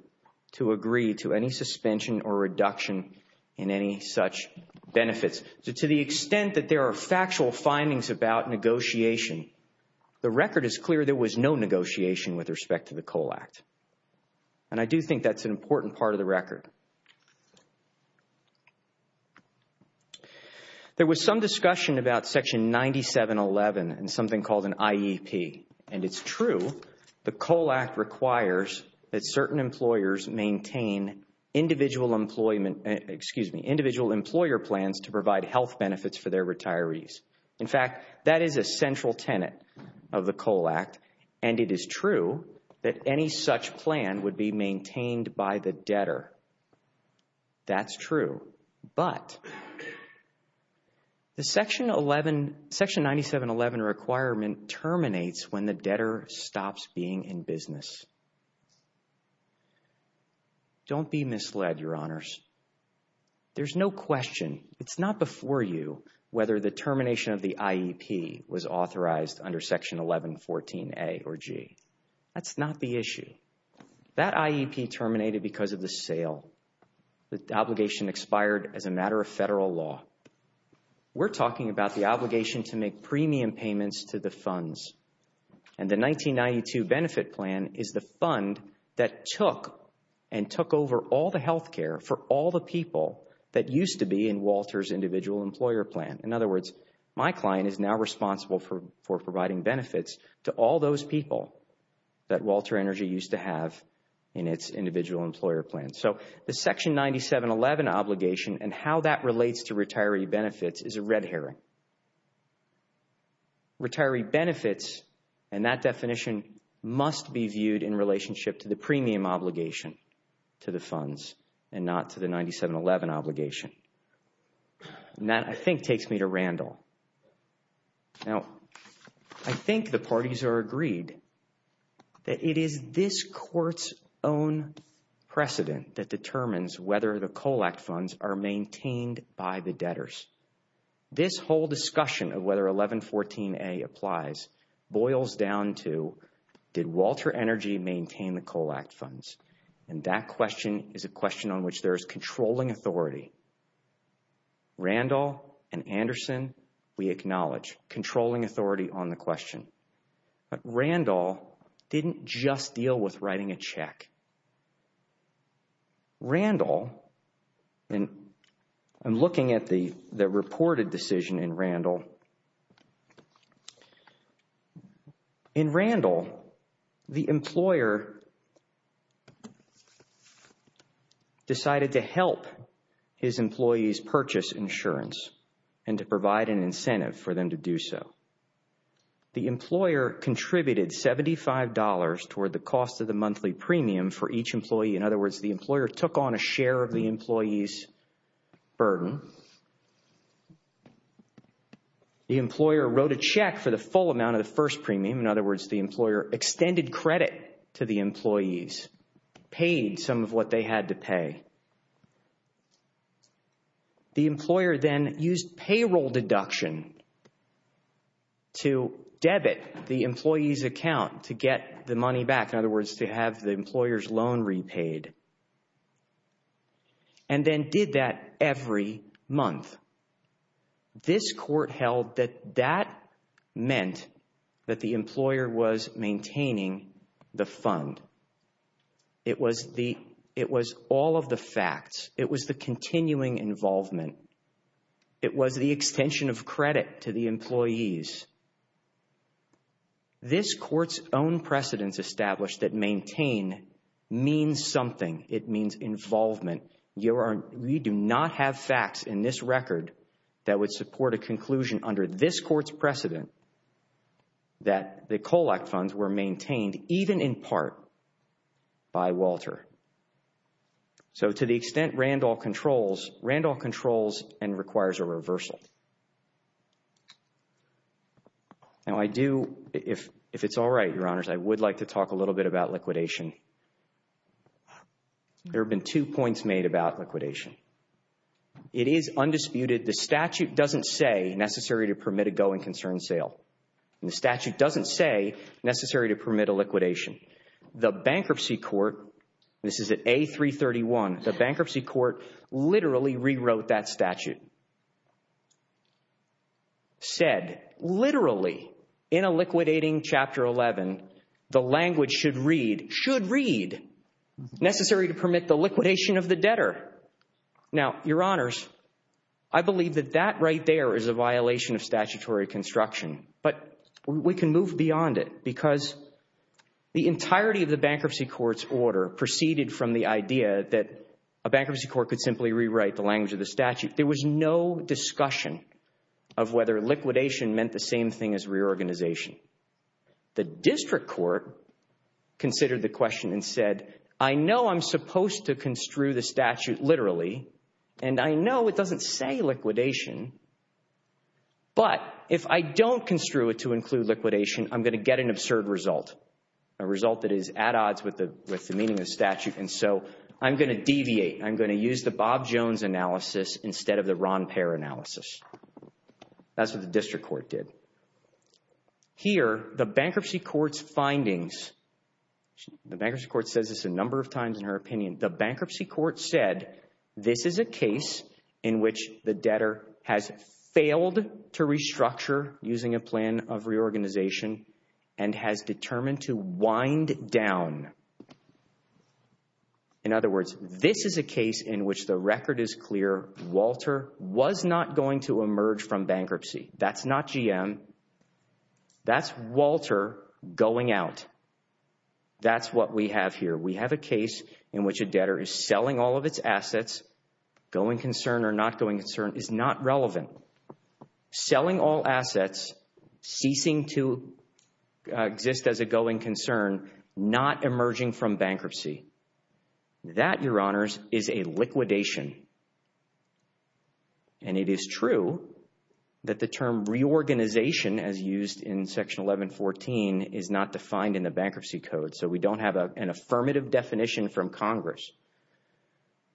to agree to any suspension or reduction in any such benefits. So to the extent that there are factual findings about negotiation, the record is clear there was no negotiation with respect to the Cole Act. And I do think that's an important part of the record. There was some discussion about Section 9711 and something called an IEP. And it's true, the Cole Act requires that certain employers maintain individual employer plans to provide health benefits for their retirees. In fact, that is a central tenet of the Cole Act, and it is true that any such plan would be maintained by the debtor. That's true. But the Section 9711 requirement terminates when the debtor stops being in business. Don't be misled, Your Honors. There's no question. It's not before you whether the termination of the IEP was authorized under Section 1114A or G. That's not the issue. That IEP terminated because of the sale. The obligation expired as a matter of federal law. We're talking about the obligation to make premium payments to the funds. And the 1992 benefit plan is the fund that took and took over all the health care for all the people that used to be in Walter's individual employer plan. In other words, my client is now responsible for providing benefits to all those people that Walter Energy used to have in its individual employer plan. So the Section 9711 obligation and how that relates to retiree benefits is a red herring. Retiree benefits and that definition must be viewed in relationship to the premium obligation to the funds and not to the 9711 obligation. And that, I think, takes me to Randall. Now, I think the parties are agreed that it is this court's own precedent that determines whether the COLACT funds are maintained by the debtors. This whole discussion of whether 1114A applies boils down to, did Walter Energy maintain the COLACT funds? And that question is a question on which there is controlling authority. Randall and Anderson, we acknowledge, controlling authority on the question. But Randall didn't just deal with writing a check. Randall, and I'm looking at the reported decision in Randall. In Randall, the employer decided to help his employees purchase insurance and to provide an incentive for them to do so. The employer contributed $75 toward the cost of the monthly premium for each employee. In other words, the employer took on a share of the employee's burden The employer wrote a check for the full amount of the first premium. In other words, the employer extended credit to the employees, paid some of what they had to pay. The employer then used payroll deduction to debit the employee's account to get the money back. In other words, to have the employer's loan repaid. And then did that every month. This court held that that meant that the employer was maintaining the fund. It was all of the facts. It was the continuing involvement. This court's own precedence established that maintain means something. It means involvement. You do not have facts in this record that would support a conclusion under this court's precedent that the COLAC funds were maintained, even in part, by Walter. So to the extent Randall controls, Randall controls and requires a reversal. Now I do, if it's all right, your honors, I would like to talk a little bit about liquidation. There have been two points made about liquidation. It is undisputed. The statute doesn't say necessary to permit a go and concern sale. The statute doesn't say necessary to permit a liquidation. The bankruptcy court, this is at A331, the bankruptcy court literally rewrote that statute. It said, literally, in a liquidating chapter 11, the language should read, should read, necessary to permit the liquidation of the debtor. Now, your honors, I believe that that right there is a violation of statutory construction. But we can move beyond it because the entirety of the bankruptcy court's order proceeded from the idea that a bankruptcy court could simply rewrite the language of the statute. There was no discussion of whether liquidation meant the same thing as reorganization. The district court considered the question and said, I know I'm supposed to construe the statute literally, and I know it doesn't say liquidation, but if I don't construe it to include liquidation, I'm going to get an absurd result, a result that is at odds with the meaning of the statute, and so I'm going to deviate. I'm going to use the Bob Jones analysis instead of the Ron Payer analysis. That's what the district court did. Here, the bankruptcy court's findings, the bankruptcy court says this a number of times in her opinion, the bankruptcy court said this is a case in which the debtor has failed to restructure using a plan of reorganization and has determined to wind down. In other words, this is a case in which the record is clear. Walter was not going to emerge from bankruptcy. That's not GM. That's Walter going out. That's what we have here. We have a case in which a debtor is selling all of its assets, going concern or not going concern is not relevant. Selling all assets, ceasing to exist as a going concern, not emerging from bankruptcy, that, Your Honors, is a liquidation. And it is true that the term reorganization, as used in Section 1114, is not defined in the bankruptcy code, so we don't have an affirmative definition from Congress.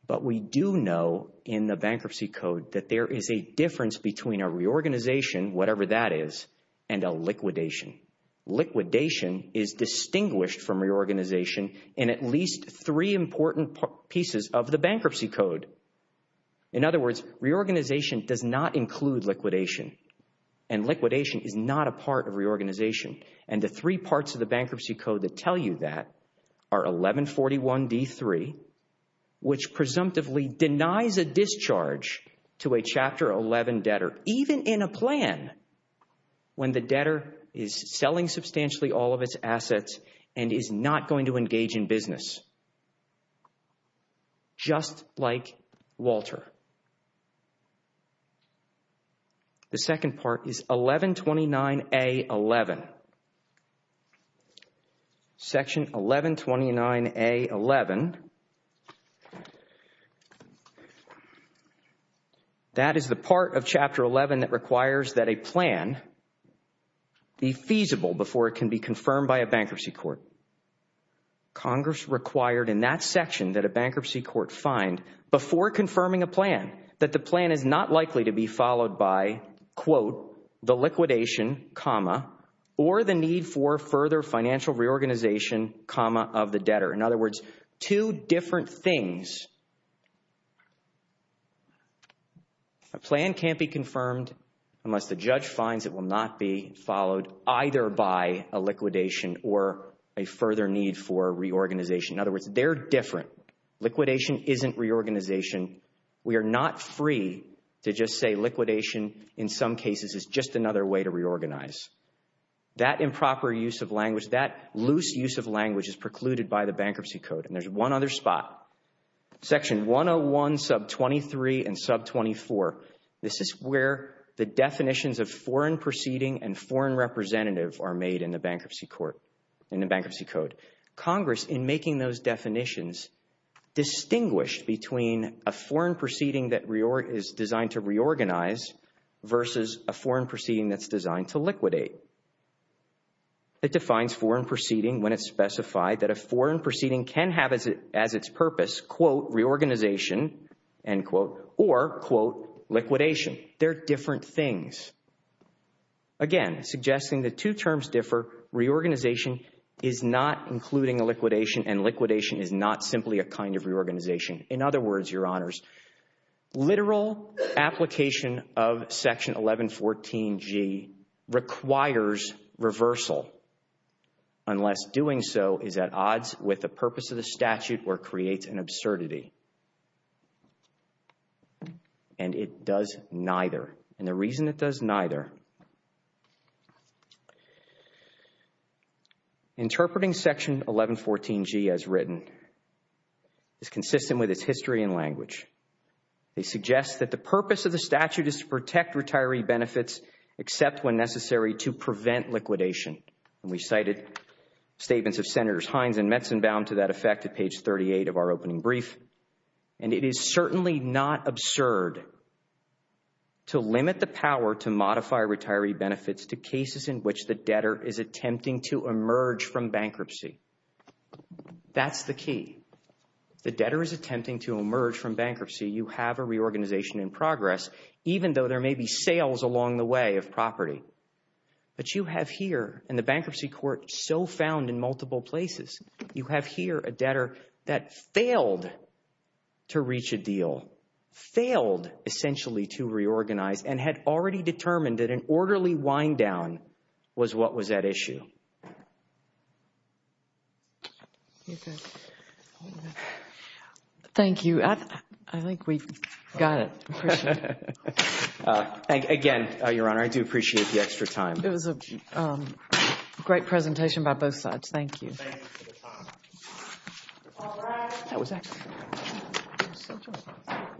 But we do know in the bankruptcy code that there is a difference between a reorganization, whatever that is, and a liquidation. Liquidation is distinguished from reorganization in at least three important pieces of the bankruptcy code. In other words, reorganization does not include liquidation, and liquidation is not a part of reorganization. And the three parts of the bankruptcy code that tell you that are 1141D3, which presumptively denies a discharge to a Chapter 11 debtor, even in a plan, when the debtor is selling substantially all of its assets and is not going to engage in business, just like Walter. The second part is 1129A11. Section 1129A11, that is the part of Chapter 11 that requires that a plan be feasible before it can be confirmed by a bankruptcy court. Congress required in that section that a bankruptcy court find, before confirming a plan, that the plan is not likely to be followed by, quote, the liquidation, comma, or the need for further financial reorganization, comma, of the debtor. In other words, two different things. A plan can't be confirmed unless the judge finds it will not be followed either by a liquidation or a further need for reorganization. In other words, they're different. Liquidation isn't reorganization. We are not free to just say liquidation, in some cases, is just another way to reorganize. That improper use of language, that loose use of language is precluded by the bankruptcy code. And there's one other spot, Section 101, Sub 23, and Sub 24. This is where the definitions of foreign proceeding and foreign representative are made in the bankruptcy code. Congress, in making those definitions, distinguished between a foreign proceeding that is designed to reorganize versus a foreign proceeding that's designed to liquidate. It defines foreign proceeding when it's specified that a foreign proceeding can have as its purpose, quote, reorganization, end quote, or, quote, liquidation. They're different things. Again, suggesting the two terms differ, reorganization is not including a liquidation, and liquidation is not simply a kind of reorganization. In other words, Your Honors, literal application of Section 1114G requires reversal, unless doing so is at odds with the purpose of the statute or creates an absurdity. And it does neither. And the reason it does neither, interpreting Section 1114G as written is consistent with its history and language. It suggests that the purpose of the statute is to protect retiree benefits except when necessary to prevent liquidation. And we cited statements of Senators Hines and Metzenbaum to that effect at page 38 of our opening brief. And it is certainly not absurd to limit the power to modify retiree benefits to cases in which the debtor is attempting to emerge from bankruptcy. That's the key. The debtor is attempting to emerge from bankruptcy. You have a reorganization in progress, even though there may be sales along the way of property. But you have here, and the bankruptcy court still found in multiple places, you have here a debtor that failed to reach a deal, failed essentially to reorganize, and had already determined that an orderly wind-down was what was at issue. Thank you. I think we've got it. Again, Your Honor, I do appreciate the extra time. It was a great presentation by both sides. Thank you.